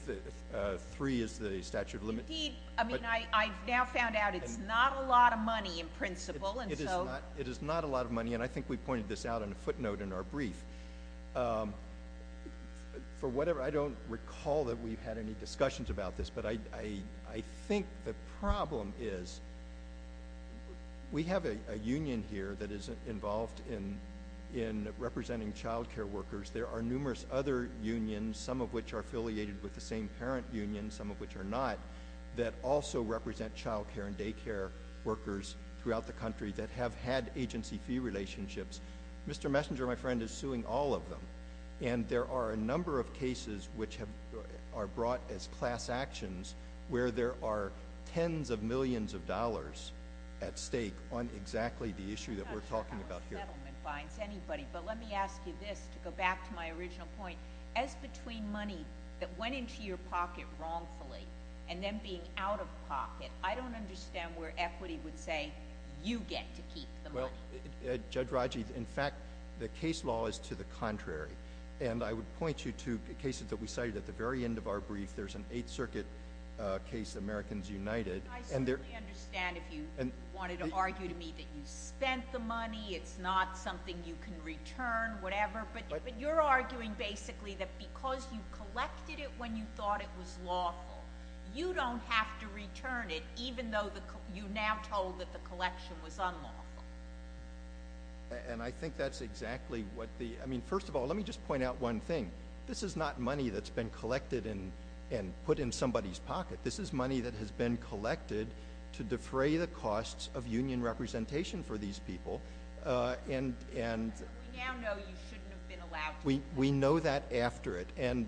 three is the statute of limits. Indeed, I mean, I've now found out it's not a lot of money in principle. It is not a lot of money, and I think we pointed this out in a footnote in our brief. I don't recall that we've had any discussions about this, but I think the problem is we have a union here that is involved in representing child care workers. There are numerous other unions, some of which are affiliated with the same parent union, some of which are not, that also represent child care and day care workers throughout the country that have had agency fee relationships. Mr. Messinger, my friend, is suing all of them, and there are a number of cases which are brought as class actions where there are tens of millions of dollars at stake on exactly the issue that we're talking about here. How much settlement fines anybody? But let me ask you this to go back to my original point. As between money that went into your pocket wrongfully and then being out of pocket, I don't understand where equity would say you get to keep the money. Judge Rodgers, in fact, the case law is to the contrary, and I would point you to cases that we cited at the very end of our brief. There's an Eighth Circuit case, Americans United. I certainly understand if you wanted to argue to me that you spent the money, it's not something you can return, whatever, but you're arguing basically that because you collected it when you thought it was lawful, you don't have to return it even though you now told that the collection was unlawful. And I think that's exactly what the – I mean, first of all, let me just point out one thing. This is not money that's been collected and put in somebody's pocket. This is money that has been collected to defray the costs of union representation for these people. But we now know you shouldn't have been allowed to. We know that after it. Yeah,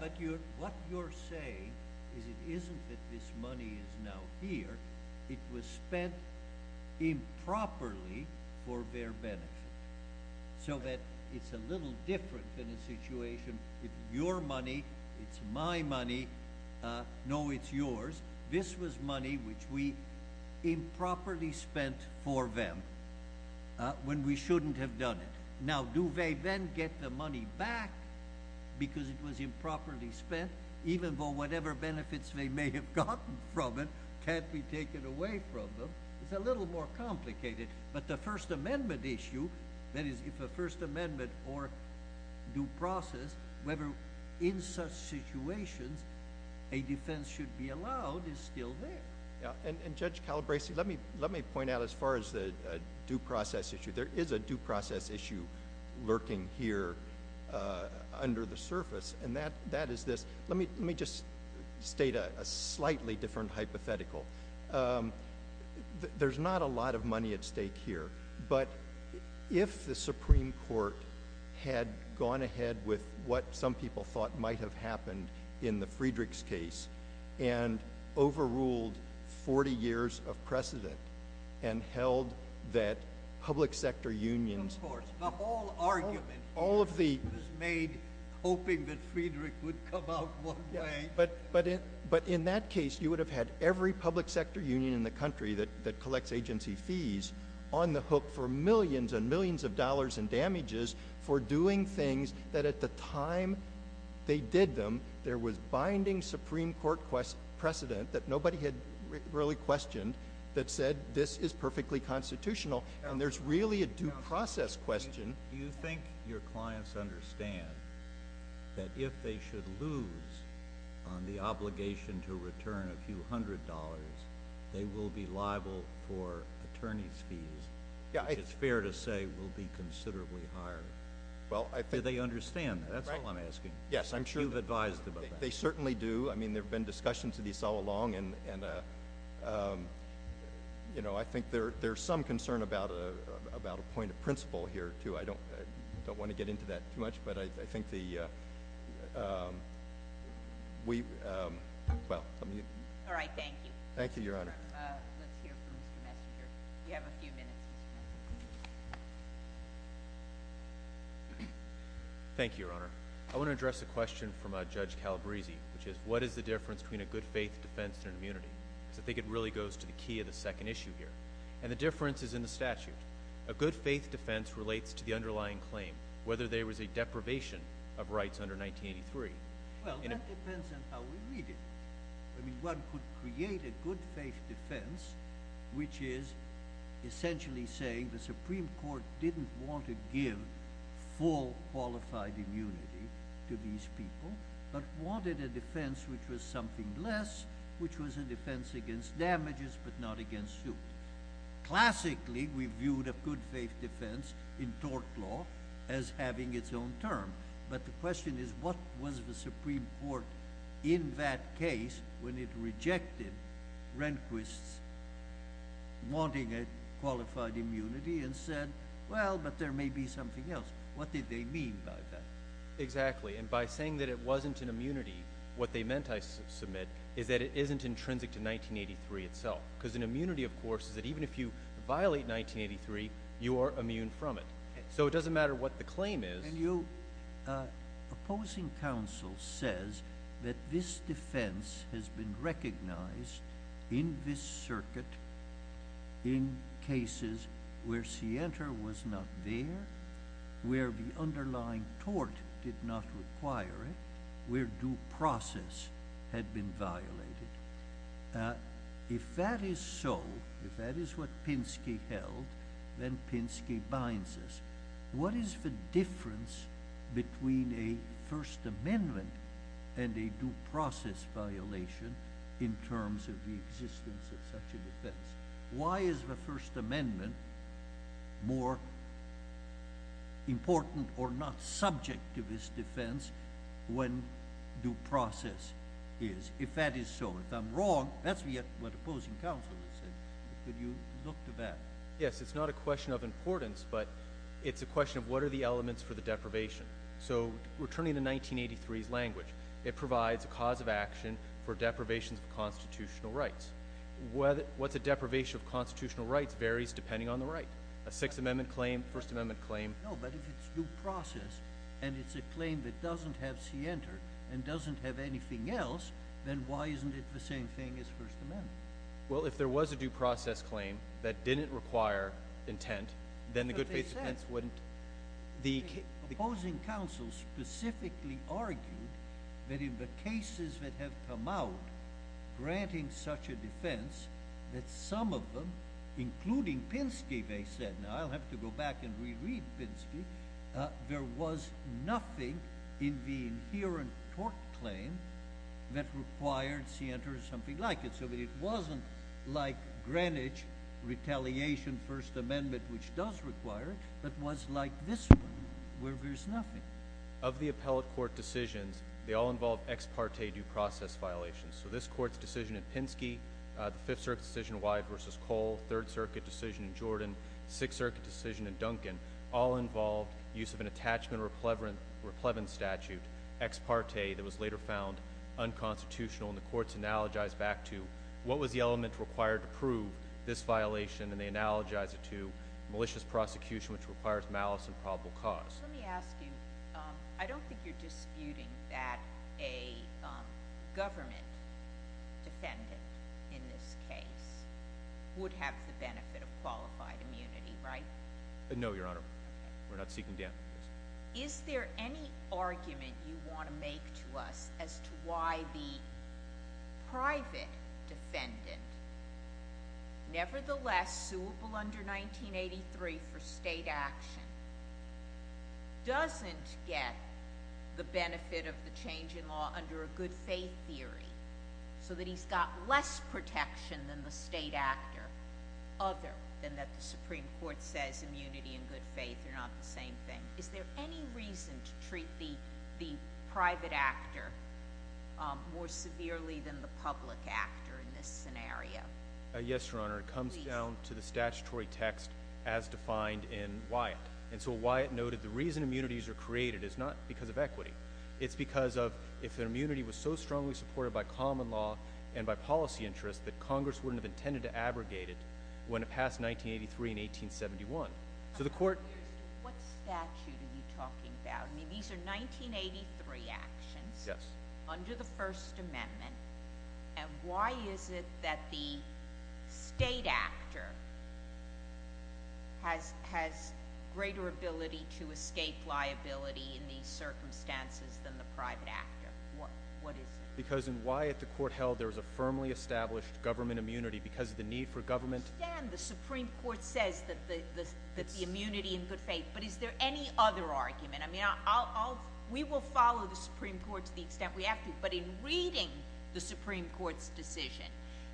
but what you're saying is it isn't that this money is now here. It was spent improperly for their benefit so that it's a little different than a situation if your money, it's my money, no, it's yours. This was money which we improperly spent for them when we shouldn't have done it. Now, do they then get the money back because it was improperly spent even though whatever benefits they may have gotten from it can't be taken away from them? It's a little more complicated, but the First Amendment issue, that is, if a First Amendment or due process, whether in such situations a defense should be allowed is still there. Yeah, and Judge Calabresi, let me point out as far as the due process issue, there is a due process issue lurking here under the surface, and that is this. Let me just state a slightly different hypothetical. There's not a lot of money at stake here, but if the Supreme Court had gone ahead with what some people thought might have happened in the Friedrich's case and overruled 40 years of precedent and held that public sector unions— Of course, the whole argument was made hoping that Friedrich would come out one way. But in that case, you would have had every public sector union in the country that collects agency fees on the hook for millions and millions of dollars in damages for doing things that at the time they did them there was binding Supreme Court precedent that nobody had really questioned that said this is perfectly constitutional, and there's really a due process question. Do you think your clients understand that if they should lose on the obligation to return a few hundred dollars, they will be liable for attorney's fees, which is fair to say will be considerably higher? Do they understand that? That's all I'm asking. Yes, I'm sure. You've advised about that. They certainly do. I mean, there have been discussions of this all along, and I think there's some concern about a point of principle here, too. I don't want to get into that too much, but I think the— All right. Thank you. Thank you, Your Honor. Let's hear from Mr. Messenger. You have a few minutes, Mr. Messenger. Thank you, Your Honor. I want to address a question from Judge Calabresi, which is, what is the difference between a good-faith defense and an immunity? I think it really goes to the key of the second issue here, and the difference is in the statute. A good-faith defense relates to the underlying claim, whether there was a deprivation of rights under 1983. Well, that depends on how we read it. I mean, one could create a good-faith defense, which is essentially saying the Supreme Court didn't want to give full qualified immunity to these people, but wanted a defense which was something less, which was a defense against damages but not against suit. Classically, we viewed a good-faith defense in tort law as having its own term, but the question is what was the Supreme Court in that case when it rejected Rehnquist's wanting a qualified immunity and said, well, but there may be something else. What did they mean by that? Exactly, and by saying that it wasn't an immunity, what they meant, I submit, is that it isn't intrinsic to 1983 itself because an immunity, of course, is that even if you violate 1983, you are immune from it. So it doesn't matter what the claim is. And you opposing counsel says that this defense has been recognized in this circuit in cases where scienter was not there, where the underlying tort did not require it, where due process had been violated. If that is so, if that is what Pinsky held, then Pinsky binds us. What is the difference between a First Amendment and a due process violation in terms of the existence of such a defense? Why is the First Amendment more important or not subject to this defense when due process is? If that is so, if I'm wrong, that's what opposing counsel has said. Could you look to that? Yes, it's not a question of importance, but it's a question of what are the elements for the deprivation. So returning to 1983's language, it provides a cause of action for deprivations of constitutional rights. What's a deprivation of constitutional rights varies depending on the right, a Sixth Amendment claim, First Amendment claim. No, but if it's due process and it's a claim that doesn't have scienter and doesn't have anything else, then why isn't it the same thing as First Amendment? Well, if there was a due process claim that didn't require intent, then the good faith defense wouldn't. Opposing counsel specifically argued that in the cases that have come out granting such a defense that some of them, including Pinsky, they said, and I'll have to go back and reread Pinsky, there was nothing in the inherent tort claim that required scienter or something like it. So it wasn't like Greenwich retaliation First Amendment, which does require it, but was like this one where there's nothing. Of the appellate court decisions, they all involve ex parte due process violations. So this court's decision in Pinsky, the Fifth Circuit decision, Wyatt v. Cole, Third Circuit decision in Jordan, Sixth Circuit decision in Duncan, all involved use of an attachment or a plebence statute, ex parte, that was later found unconstitutional, and the courts analogized back to what was the element required to prove this violation, and they analogized it to malicious prosecution, which requires malice and probable cause. Let me ask you, I don't think you're disputing that a government defendant in this case would have the benefit of qualifying. No, Your Honor. We're not seeking damages. Is there any argument you want to make to us as to why the private defendant, nevertheless, suable under 1983 for state action, doesn't get the benefit of the change in law under a good faith theory so that he's got less protection than the state actor other than that the Supreme Court says immunity and good faith are not the same thing? Is there any reason to treat the private actor more severely than the public actor in this scenario? Yes, Your Honor. It comes down to the statutory text as defined in Wyatt. And so Wyatt noted the reason immunities are created is not because of equity. It's because if an immunity was so strongly supported by common law and by policy interest that Congress wouldn't have intended to abrogate it when it passed 1983 and 1871. What statute are you talking about? I mean, these are 1983 actions under the First Amendment, and why is it that the state actor has greater ability to escape liability in these circumstances than the private actor? What is it? Because in Wyatt, the court held there was a firmly established government immunity because of the need for government. I understand the Supreme Court says that the immunity and good faith, but is there any other argument? I mean, we will follow the Supreme Court to the extent we have to, but in reading the Supreme Court's decision,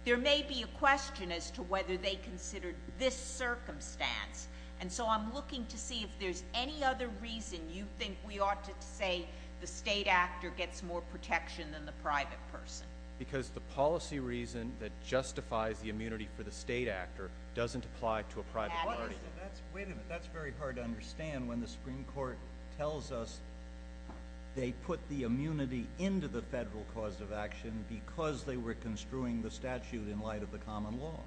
there may be a question as to whether they considered this circumstance. And so I'm looking to see if there's any other reason you think we ought to say the state actor gets more protection than the private person. Because the policy reason that justifies the immunity for the state actor doesn't apply to a private party. Wait a minute. That's very hard to understand when the Supreme Court tells us they put the immunity into the federal cause of action because they were construing the statute in light of the common law.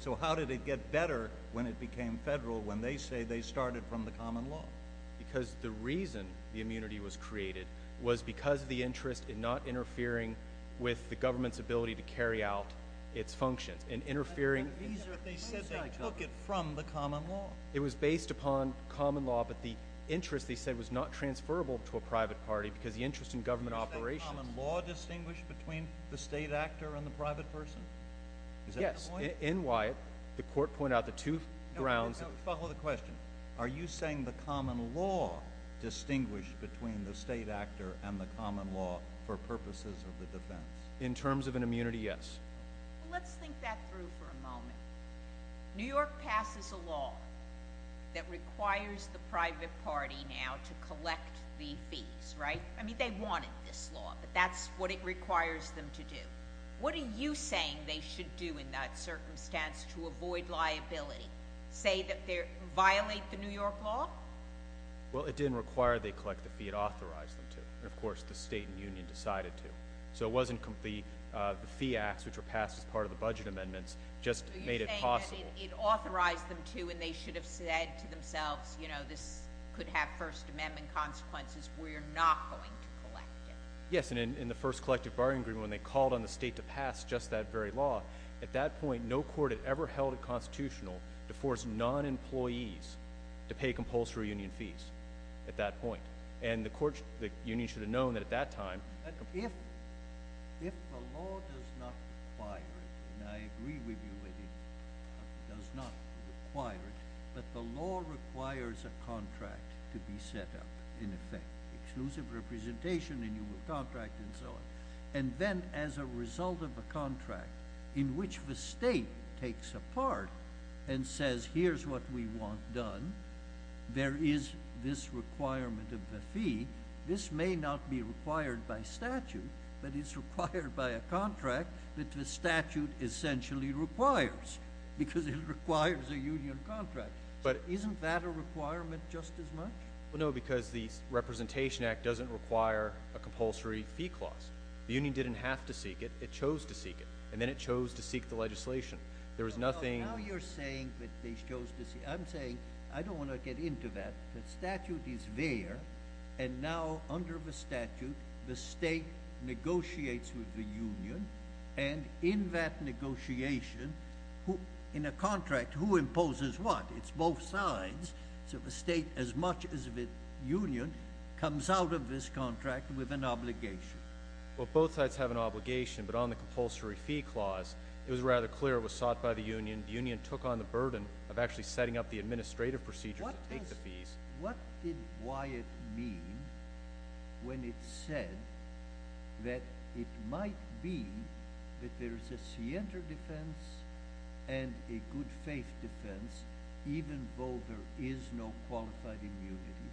So how did it get better when it became federal when they say they started from the common law? Because the reason the immunity was created was because of the interest in not interfering with the government's ability to carry out its functions and interfering. But they said they took it from the common law. It was based upon common law, but the interest, they said, was not transferable to a private party because the interest in government operations. Is that common law distinguished between the state actor and the private person? Is that the point? Yes. In Wyatt, the court pointed out the two grounds. Now follow the question. Are you saying the common law distinguished between the state actor and the common law for purposes of the defense? In terms of an immunity, yes. Let's think that through for a moment. New York passes a law that requires the private party now to collect the fees, right? I mean, they wanted this law, but that's what it requires them to do. What are you saying they should do in that circumstance to avoid liability? Say that they violate the New York law? Well, it didn't require they collect the fee. It authorized them to, and, of course, the state and union decided to. So it wasn't the fee acts, which were passed as part of the budget amendments, just made it possible. So you're saying that it authorized them to, and they should have said to themselves, you know, this could have First Amendment consequences. We're not going to collect it. Yes, and in the first collective bargaining agreement, when they called on the state to pass just that very law, at that point no court had ever held it constitutional to force non-employees to pay compulsory union fees at that point. And the union should have known that at that time. If the law does not require it, and I agree with you that it does not require it, but the law requires a contract to be set up, in effect, exclusive representation in your contract and so on, and then as a result of a contract in which the state takes a part and says here's what we want done, there is this requirement of the fee. This may not be required by statute, but it's required by a contract that the statute essentially requires because it requires a union contract. But isn't that a requirement just as much? Well, no, because the Representation Act doesn't require a compulsory fee clause. The union didn't have to seek it. It chose to seek it, and then it chose to seek the legislation. There was nothing— Now you're saying that they chose to seek. I'm saying I don't want to get into that. The statute is there, and now under the statute, the state negotiates with the union, and in that negotiation, in a contract, who imposes what? It's both sides, so the state, as much as the union, comes out of this contract with an obligation. Well, both sides have an obligation, but on the compulsory fee clause, it was rather clear it was sought by the union. The union took on the burden of actually setting up the administrative procedure to take the fees. What did Wyatt mean when it said that it might be that there is a scienter defense and a good faith defense, even though there is no qualified immunity?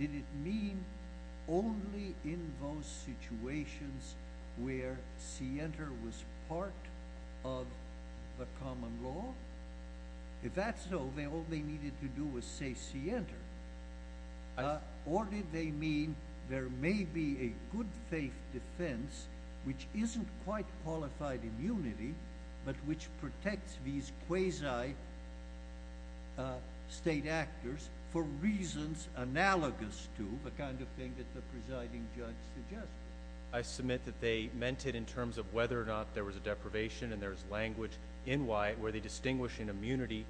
Did it mean only in those situations where scienter was part of the common law? If that's so, then all they needed to do was say scienter. Or did they mean there may be a good faith defense, which isn't quite qualified immunity, but which protects these quasi-state actors for reasons analogous to the kind of thing that the presiding judge suggested? I submit that they meant it in terms of whether or not there was a deprivation and there was language in Wyatt where they distinguish an immunity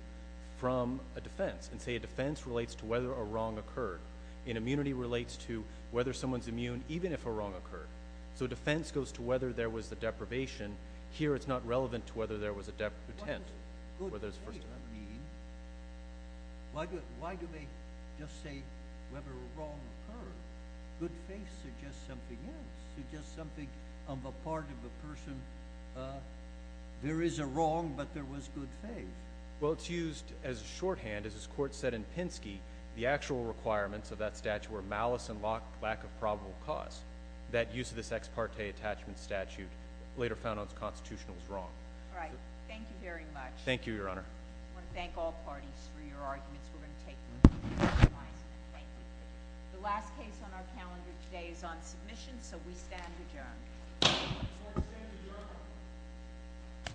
from a defense and say a defense relates to whether a wrong occurred. An immunity relates to whether someone is immune even if a wrong occurred. So defense goes to whether there was a deprivation. Here it's not relevant to whether there was a deputant. What does good faith mean? Why do they just say whether a wrong occurred? Good faith suggests something else, suggests something on the part of a person. There is a wrong, but there was good faith. Well, it's used as a shorthand, as this court said in Pinsky, the actual requirements of that statute were malice and lack of probable cause. That use of this ex parte attachment statute later found those constitutionals wrong. All right. Thank you very much. Thank you, Your Honor. I want to thank all parties for your arguments. We're going to take them. The last case on our calendar today is on submission, so we stand adjourned. Court is adjourned.